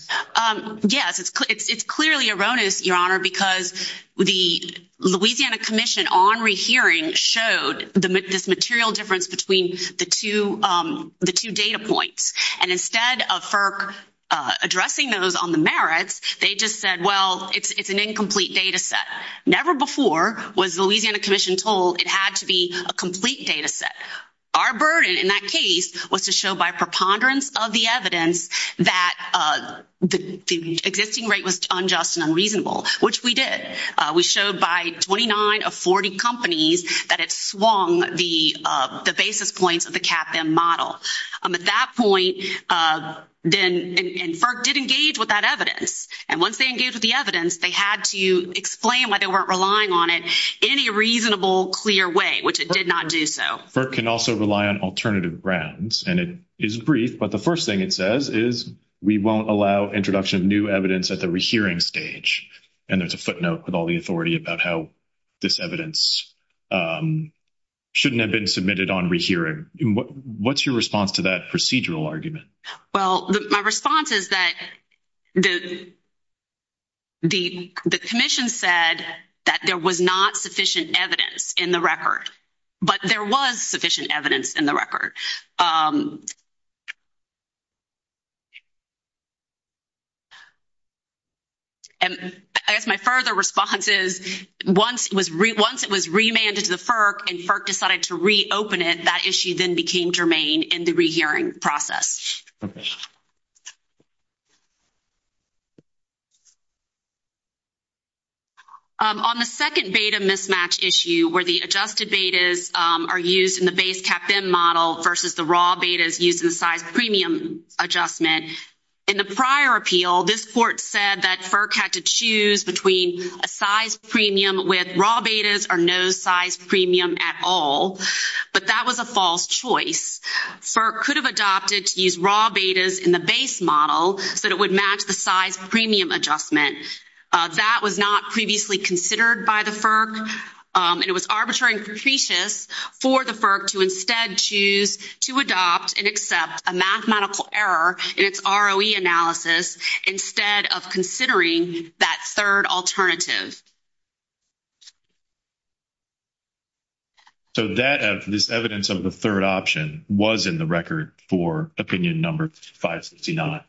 Yes. It's clearly erroneous, Your Honor, because the Louisiana Commission on rehearing showed this material difference between the two data points. And instead of FERC addressing those on the merits, they just said, well, it's an incomplete data set. Never before was the Louisiana Commission told it had to be a complete data set. Our burden in that case was to show by preponderance of the evidence that the existing rate was unjust and unreasonable, which we did. We showed by 29 of 40 companies that it swung the basis points of the CAPM model. At that point, then, and FERC did engage with that evidence. And once they engaged with the evidence, they had to explain why they weren't relying on it in a reasonable, clear way, which it did not do so. FERC can also rely on alternative grounds. And it is brief, but the first thing it says is, we won't allow introduction of new evidence at the rehearing stage. And there's a footnote with all the authority about how this evidence shouldn't have been submitted on rehearing. What's your response to that procedural argument? Well, my response is that the commission said that there was not sufficient evidence in the record. But there was sufficient evidence in the record. And my further response is, once it was remanded to FERC and FERC decided to submit that evidence, And that issue then became germane in the rehearing process. On the second beta mismatch issue, where the adjusted betas are used in the base CAPM model versus the raw betas used in size premium adjustment. In the prior appeal, this court said that FERC had to choose between a size premium with raw betas or no size premium at all. But that was a false choice. FERC could have adopted to use raw betas in the base model, but it would match the size premium adjustment. That was not previously considered by the FERC. And it was arbitrary and superstitious for the FERC to instead choose to adopt and accept a mathematical error in its ROE analysis. Instead of considering that third alternative. So this evidence of the third option was in the record for opinion number 569.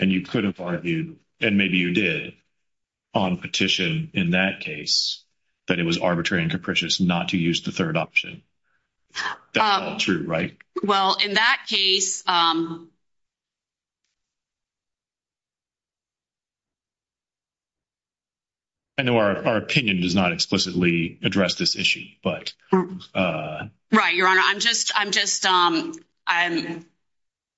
And you could have argued, and maybe you did, on petition in that case, that it was arbitrary and capricious not to use the third option. That's not true, right? Well, in that case, I know our opinion does not explicitly address this issue, but. Right. Your Honor, I'm just, I'm just,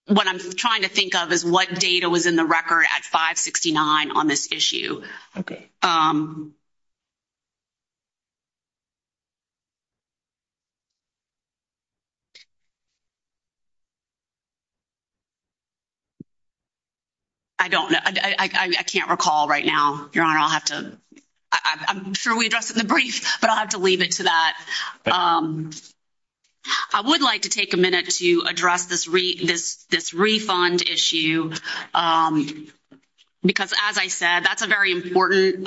what I'm trying to think of is what data was in the record at 569 on this issue. Okay. I don't know. I can't recall right now. Your Honor, I'll have to, I'm sure we addressed it in the brief, but I'll have to leave it to that. I would like to take a minute to address this refund issue. Because as I said, that's a very important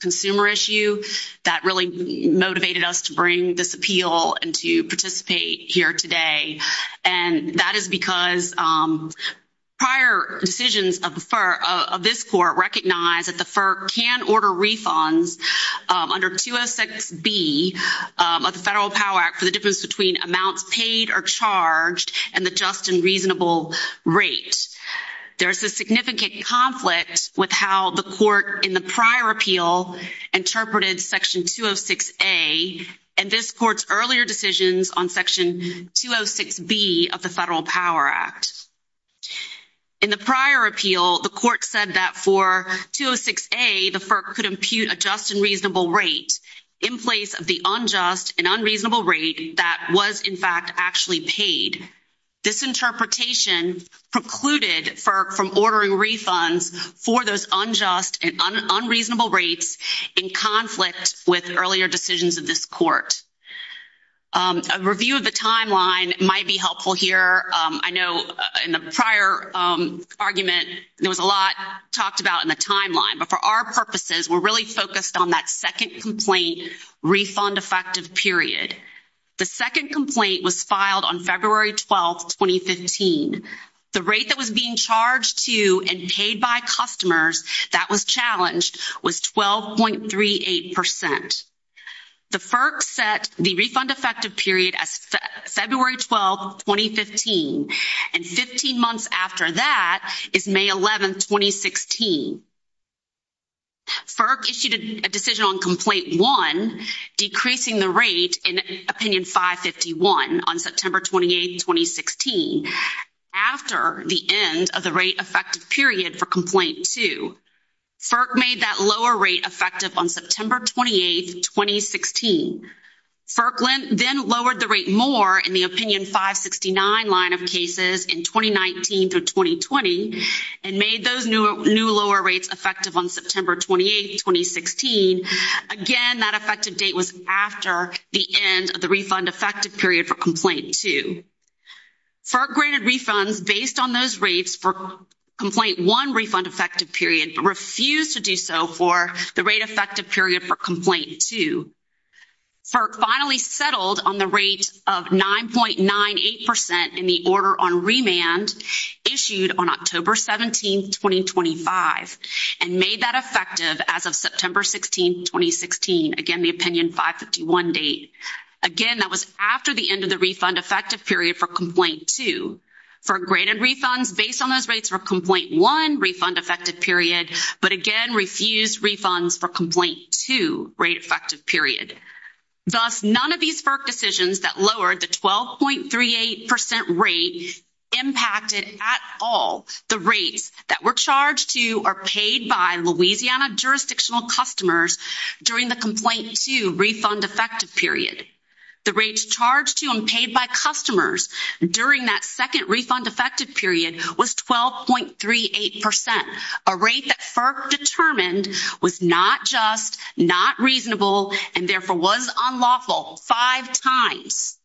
consumer issue that really motivated us to bring this appeal and to participate here today. And that is because prior decisions of this court recognize that the FERC can order refunds under QSXB of the Federal Power Act for the difference between amounts paid or charged and the just and reasonable rate. There's a significant conflict with how the court in the prior appeal interpreted section 206A and this court's earlier decisions on section 206B of the Federal Power Act. In the prior appeal, the court said that for 206A, the FERC could impute a just and reasonable rate in place of the unjust and unreasonable rate that was in fact actually paid. This interpretation precluded FERC from ordering refunds for those unjust and unreasonable rates in conflict with earlier decisions of this court. A review of the timeline might be helpful here. I know in the prior argument, there was a lot talked about in the timeline. But for our purposes, we're really focused on that second complaint refund effective period. The second complaint was filed on February 12, 2015. The rate that was being charged to and paid by customers that was challenged was 12.38%. The FERC set the refund effective period as February 12, 2015. And 15 months after that is May 11, 2016. FERC issued a decision on Complaint 1, decreasing the rate in Opinion 551 on September 28, 2016, after the end of the rate effective period for Complaint 2. FERC made that lower rate effective on September 28, 2016. FERC then lowered the rate more in the Opinion 569 line of cases in 2019 through 2020 and made those new lower rates effective on September 28, 2016. Again, that effective date was after the end of the refund effective period for Complaint 2. FERC granted refunds based on those rates for Complaint 1 refund effective period but refused to do so for the rate effective period for Complaint 2. FERC finally settled on the rate of 9.98% in the order on remand issued on October 17, 2025 and made that effective as of September 16, 2016. Again, the Opinion 551 date. Again, that was after the end of the refund effective period for Complaint 2. FERC granted refunds based on those rates for Complaint 1 refund effective period but again refused refunds for Complaint 2 rate effective period. Thus, none of these FERC decisions that lowered the 12.38% rate impacted at all the rates that were charged to or paid by Louisiana jurisdictional customers during the Complaint 2 refund effective period. The rates charged to and paid by customers during that second refund effective period was 12.38%, a rate that FERC determined was not just, not reasonable, and therefore was unlawful five times.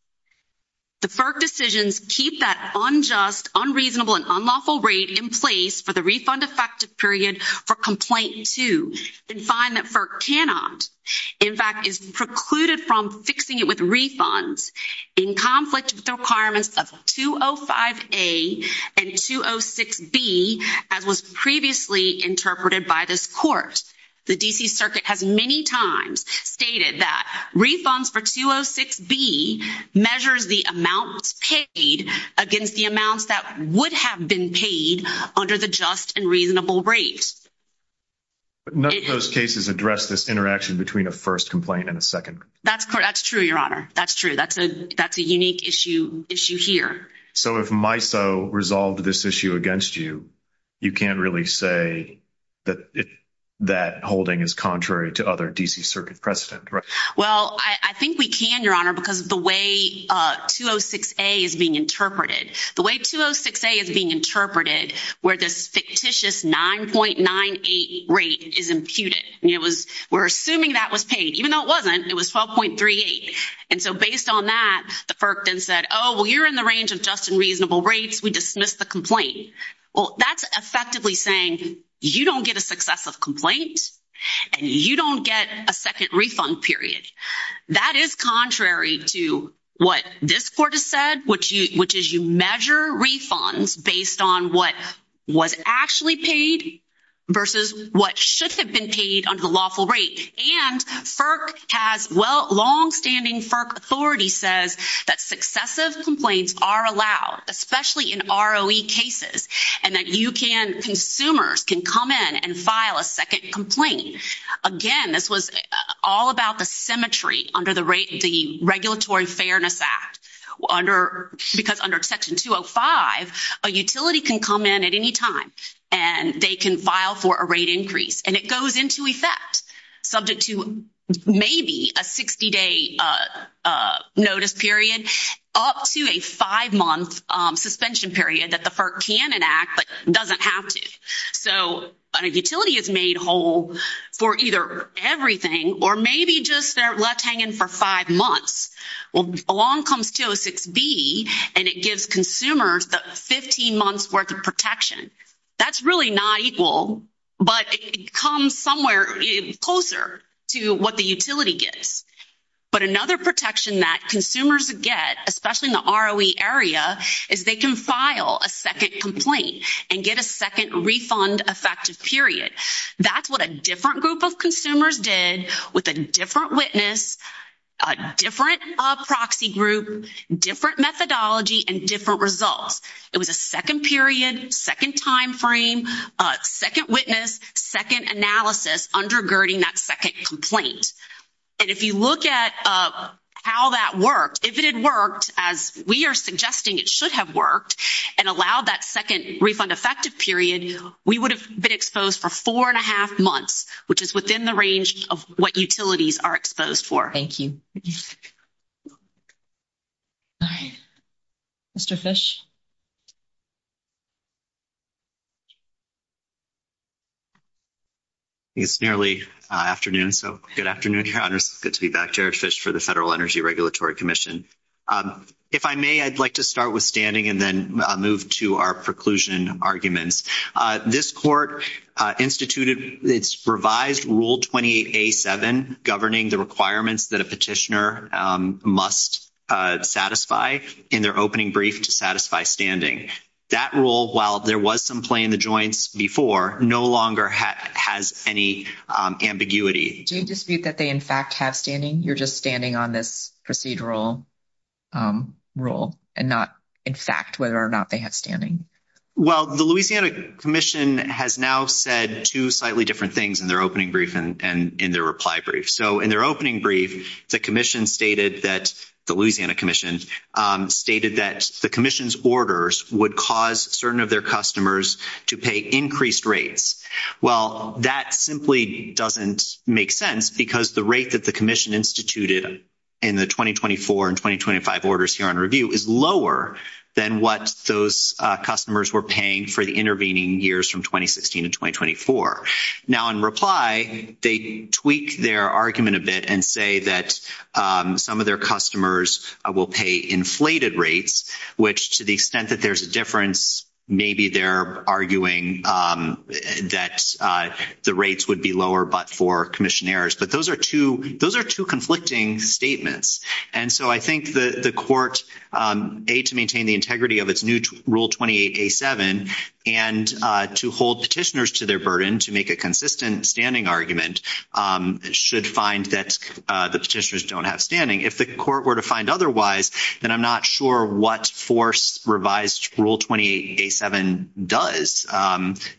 The FERC decisions keep that unjust, unreasonable, and unlawful rate in place for the refund effective period for Complaint 2 and find that FERC cannot, in fact, is precluded from fixing it with refunds, in conflict with the requirements of 205A and 206B as was previously interpreted by this Court. The D.C. Circuit has many times stated that refunds for 206B measures the amount paid against the amounts that would have been paid under the just and reasonable rates. None of those cases address this interaction between a first complaint and a second. That's true, Your Honor. That's true. That's a unique issue here. So if MISO resolved this issue against you, you can't really say that holding is contrary to other D.C. Circuit precedent, right? Well, I think we can, Your Honor, because of the way 206A is being interpreted. The way 206A is being interpreted where the fictitious 9.98 rate is imputed, and it was-we're assuming that was paid. Even though it wasn't, it was 12.38. And so based on that, the FERC then said, oh, well, you're in the range of just and reasonable rates. We dismiss the complaint. Well, that's effectively saying you don't get a successive complaint and you don't get a second refund period. That is contrary to what this Court has said, which is you measure refunds based on what was actually paid versus what should have been paid under the lawful rate. And FERC has-longstanding FERC authority says that successive complaints are allowed, especially in ROE cases, and that you can-consumers can come in and file a second complaint. Again, this was all about the symmetry under the Regulatory Fairness Act. Under-because under Section 205, a utility can come in at any time and they can file for a rate increase. And it goes into effect subject to maybe a 60-day notice period up to a five-month suspension period that the FERC can enact but doesn't have to. So a utility is made whole for either everything or maybe just they're left hanging for five months. Well, along comes 206D, and it gives consumers the 15 months' worth of protection. That's really not equal, but it comes somewhere closer to what the utility gets. But another protection that consumers get, especially in the ROE area, is they can file a second complaint and get a second refund effective period. That's what a different group of consumers did with a different witness, a different proxy group, different methodology, and different results. It was a second period, second timeframe, second witness, second analysis undergirding that second complaint. And if you look at how that worked, if it had worked as we are suggesting it should have worked and allowed that second refund effective period, we would have been exposed for four and a half months, which is within the range of what utilities are exposed for. Thank you. All right. Mr. Fish? It's nearly afternoon, so good afternoon, Your Honors. Good to be back. Jared Fish for the Federal Energy Regulatory Commission. If I may, I'd like to start with standing and then move to our preclusion arguments. This court instituted its revised Rule 28A.7 governing the requirements that a petitioner must satisfy in their opening brief to satisfy standing. That rule, while there was some play in the joints before, no longer has any ambiguity. Do you dispute that they, in fact, have standing? You're just standing on this procedural rule and not, in fact, whether or not they have standing? Well, the Louisiana Commission has now said two slightly different things in their opening brief and in their reply brief. So, in their opening brief, the commission stated that the Louisiana Commission stated that the commission's orders would cause certain of their customers to pay increased rates. Well, that simply doesn't make sense because the rate that the commission instituted in the 2024 and 2025 orders here on review is lower than what those customers were paying for the intervening years from 2016 and 2024. Now, in reply, they tweak their argument a bit and say that some of their customers will pay inflated rates, which to the extent that there's a difference, maybe they're arguing that the rates would be lower but for commissionaires. But those are two conflicting statements. And so I think the court, A, to maintain the integrity of its new Rule 28A7 and to hold petitioners to their burden to make a consistent standing argument should find that the petitioners don't have standing. If the court were to find otherwise, then I'm not sure what force revised Rule 28A7 does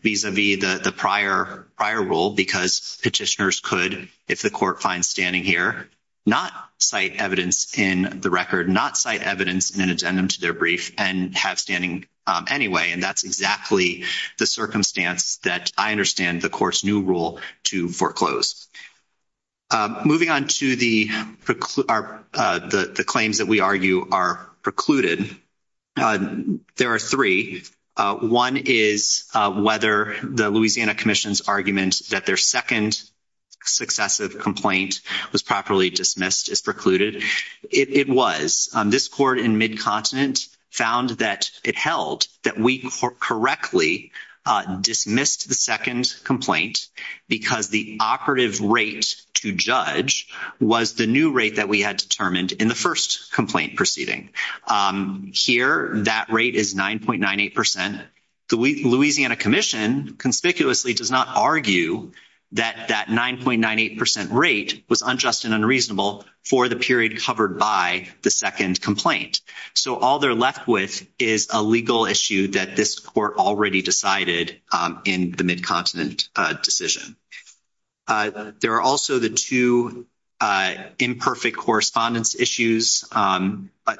vis-a-vis the prior rule because petitioners could, if the court finds standing here, not cite evidence in the record, not cite evidence in an addendum to their brief and have standing anyway. And that's exactly the circumstance that I understand the court's new rule to foreclose. Moving on to the claims that we argue are precluded, there are three. One is whether the Louisiana Commission's argument that their second successive complaint was properly dismissed as precluded. It was. This court in Mid-Continent found that it held that we correctly dismissed the second complaint because the operative rate to judge was the new rate that we had determined in the first complaint proceeding. Here, that rate is 9.98%. The Louisiana Commission conspicuously does not argue that that 9.98% rate was unjust and unreasonable for the period covered by the second complaint. So all they're left with is a legal issue that this court already decided in the Mid-Continent decision. There are also the two imperfect correspondence issues.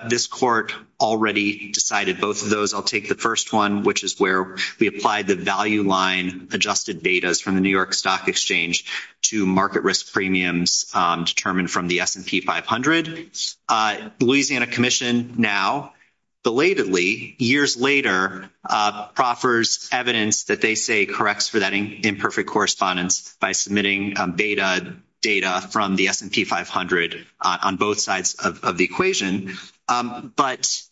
This court already decided both of those. I'll take the first one, which is where we applied the value line adjusted datas from the New York Stock Exchange to market risk premiums determined from the S&P 500. The Louisiana Commission now, belatedly, years later, proffers evidence that they say corrects for that imperfect correspondence by submitting beta data from the S&P 500 on both sides of the equation. But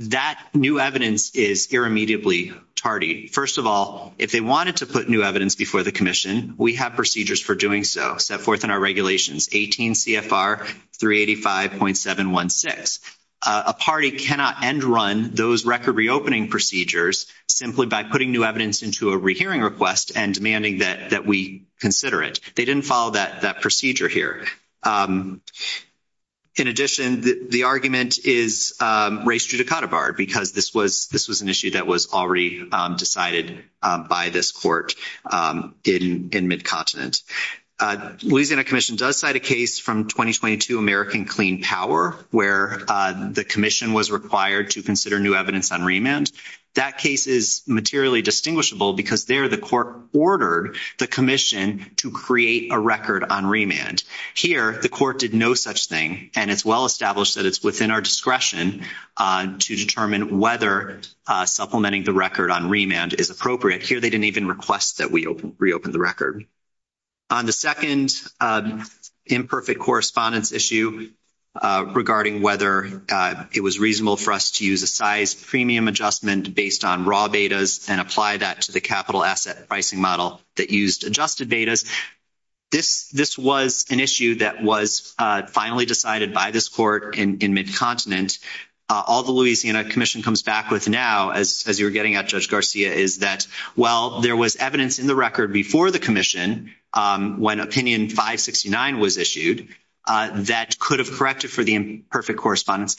that new evidence is irremediably tardy. First of all, if they wanted to put new evidence before the Commission, we have procedures for doing so. Set forth in our regulations, 18 CFR 385.716. A party cannot end run those record reopening procedures simply by putting new evidence into a rehearing request and demanding that we consider it. They didn't follow that procedure here. In addition, the argument is raised through Dakota Bar because this was an issue that was already decided by this court in Mid-Continent. Louisiana Commission does cite a case from 2022 American Clean Power where the Commission was required to consider new evidence on remand. That case is materially distinguishable because there the court ordered the Commission to create a record on remand. Here, the court did no such thing, and it's well established that it's within our discretion to determine whether supplementing the record on remand is appropriate. Here, they didn't even request that we reopen the record. On the second imperfect correspondence issue regarding whether it was reasonable for us to use a size premium adjustment based on raw datas and apply that to the capital asset pricing model that used adjusted datas, this was an issue that was finally decided by this court in Mid-Continent. All the Louisiana Commission comes back with now, as you were getting at Judge Garcia, is that, well, there was evidence in the record before the Commission, when Opinion 569 was issued, that could have corrected for the imperfect correspondence.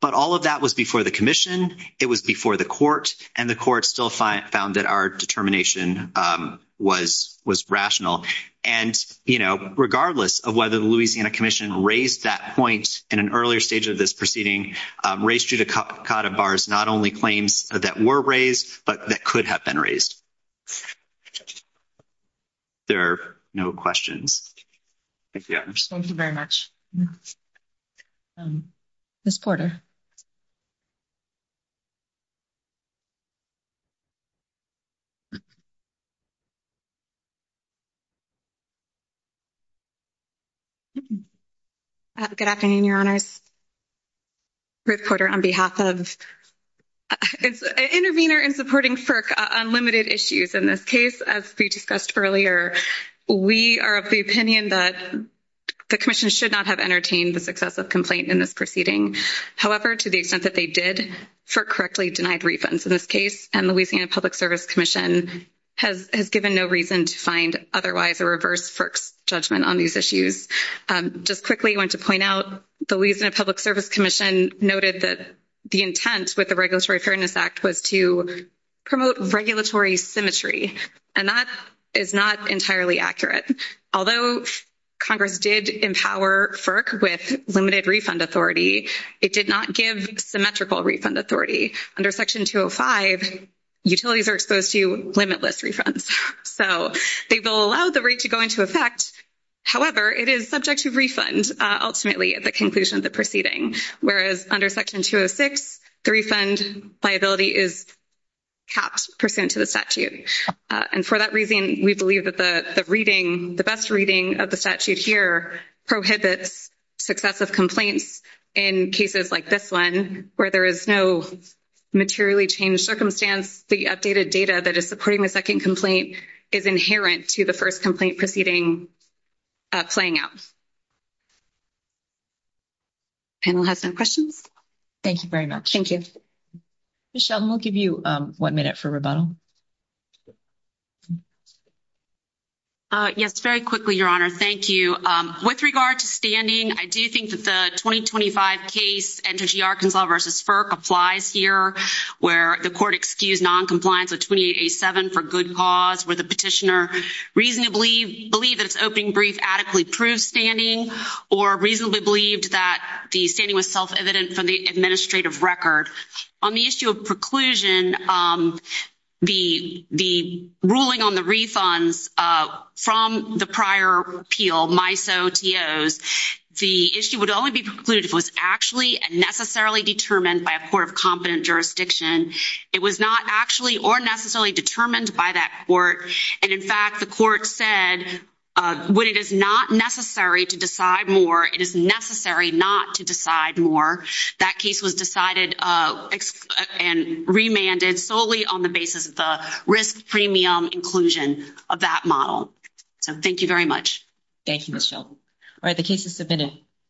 But all of that was before the Commission, it was before the court, and the court still found that our determination was rational. And, you know, regardless of whether the Louisiana Commission raised that point in an earlier stage of this proceeding, raised through the Cod of Bars not only claims that were raised, but that could have been raised. There are no questions. Thank you. Thank you very much. Ms. Porter. Good afternoon, Your Honors. Ruth Porter on behalf of an intervener in supporting FERC on limited issues. In this case, as we discussed earlier, we are of the opinion that the Commission should not have entertained the successive complaint in this proceeding. However, to the extent that they did, for correctly denied reasons in this case, and the Louisiana Public Service Commission has given no reason to find otherwise a reverse FERC judgment on these issues. Just quickly, I want to point out, the Louisiana Public Service Commission noted that the intent with the Regulatory Fairness Act was to promote regulatory symmetry. And that is not entirely accurate. Although Congress did empower FERC with limited refund authority, it did not give symmetrical refund authority. Under Section 205, utilities are exposed to limitless refunds. So, they will allow the rate to go into effect. However, it is subject to refund ultimately at the conclusion of the proceeding. Whereas under Section 206, the refund liability is capped pursuant to the statute. And for that reason, we believe that the reading, the best reading of the statute here prohibits successive complaints in cases like this one, where there is no materially changed circumstance. The updated data that is supporting the second complaint is inherent to the first complaint proceeding playing out. And we'll have some questions. Thank you very much. Thank you. Michelle, we'll give you one minute for rebuttal. Yes, very quickly, Your Honor. Thank you. So, with regard to standing, I do think that the 2025 case, NJR Conflict v. FERC, applies here, where the court excused noncompliance with 2887 for good cause, where the petitioner reasonably believed that its opening brief adequately proved standing, or reasonably believed that the standing was self-evident from the administrative record. On the issue of preclusion, the ruling on the refunds from the prior appeal, MISO, TOs, the issue would only be precluded if it was actually and necessarily determined by a court of competent jurisdiction. It was not actually or necessarily determined by that court. And, in fact, the court said, when it is not necessary to decide more, it is necessary not to decide more. That case was decided and remanded solely on the basis of the risk premium inclusion of that model. So, thank you very much. Thank you, Michelle. All right. The case is submitted.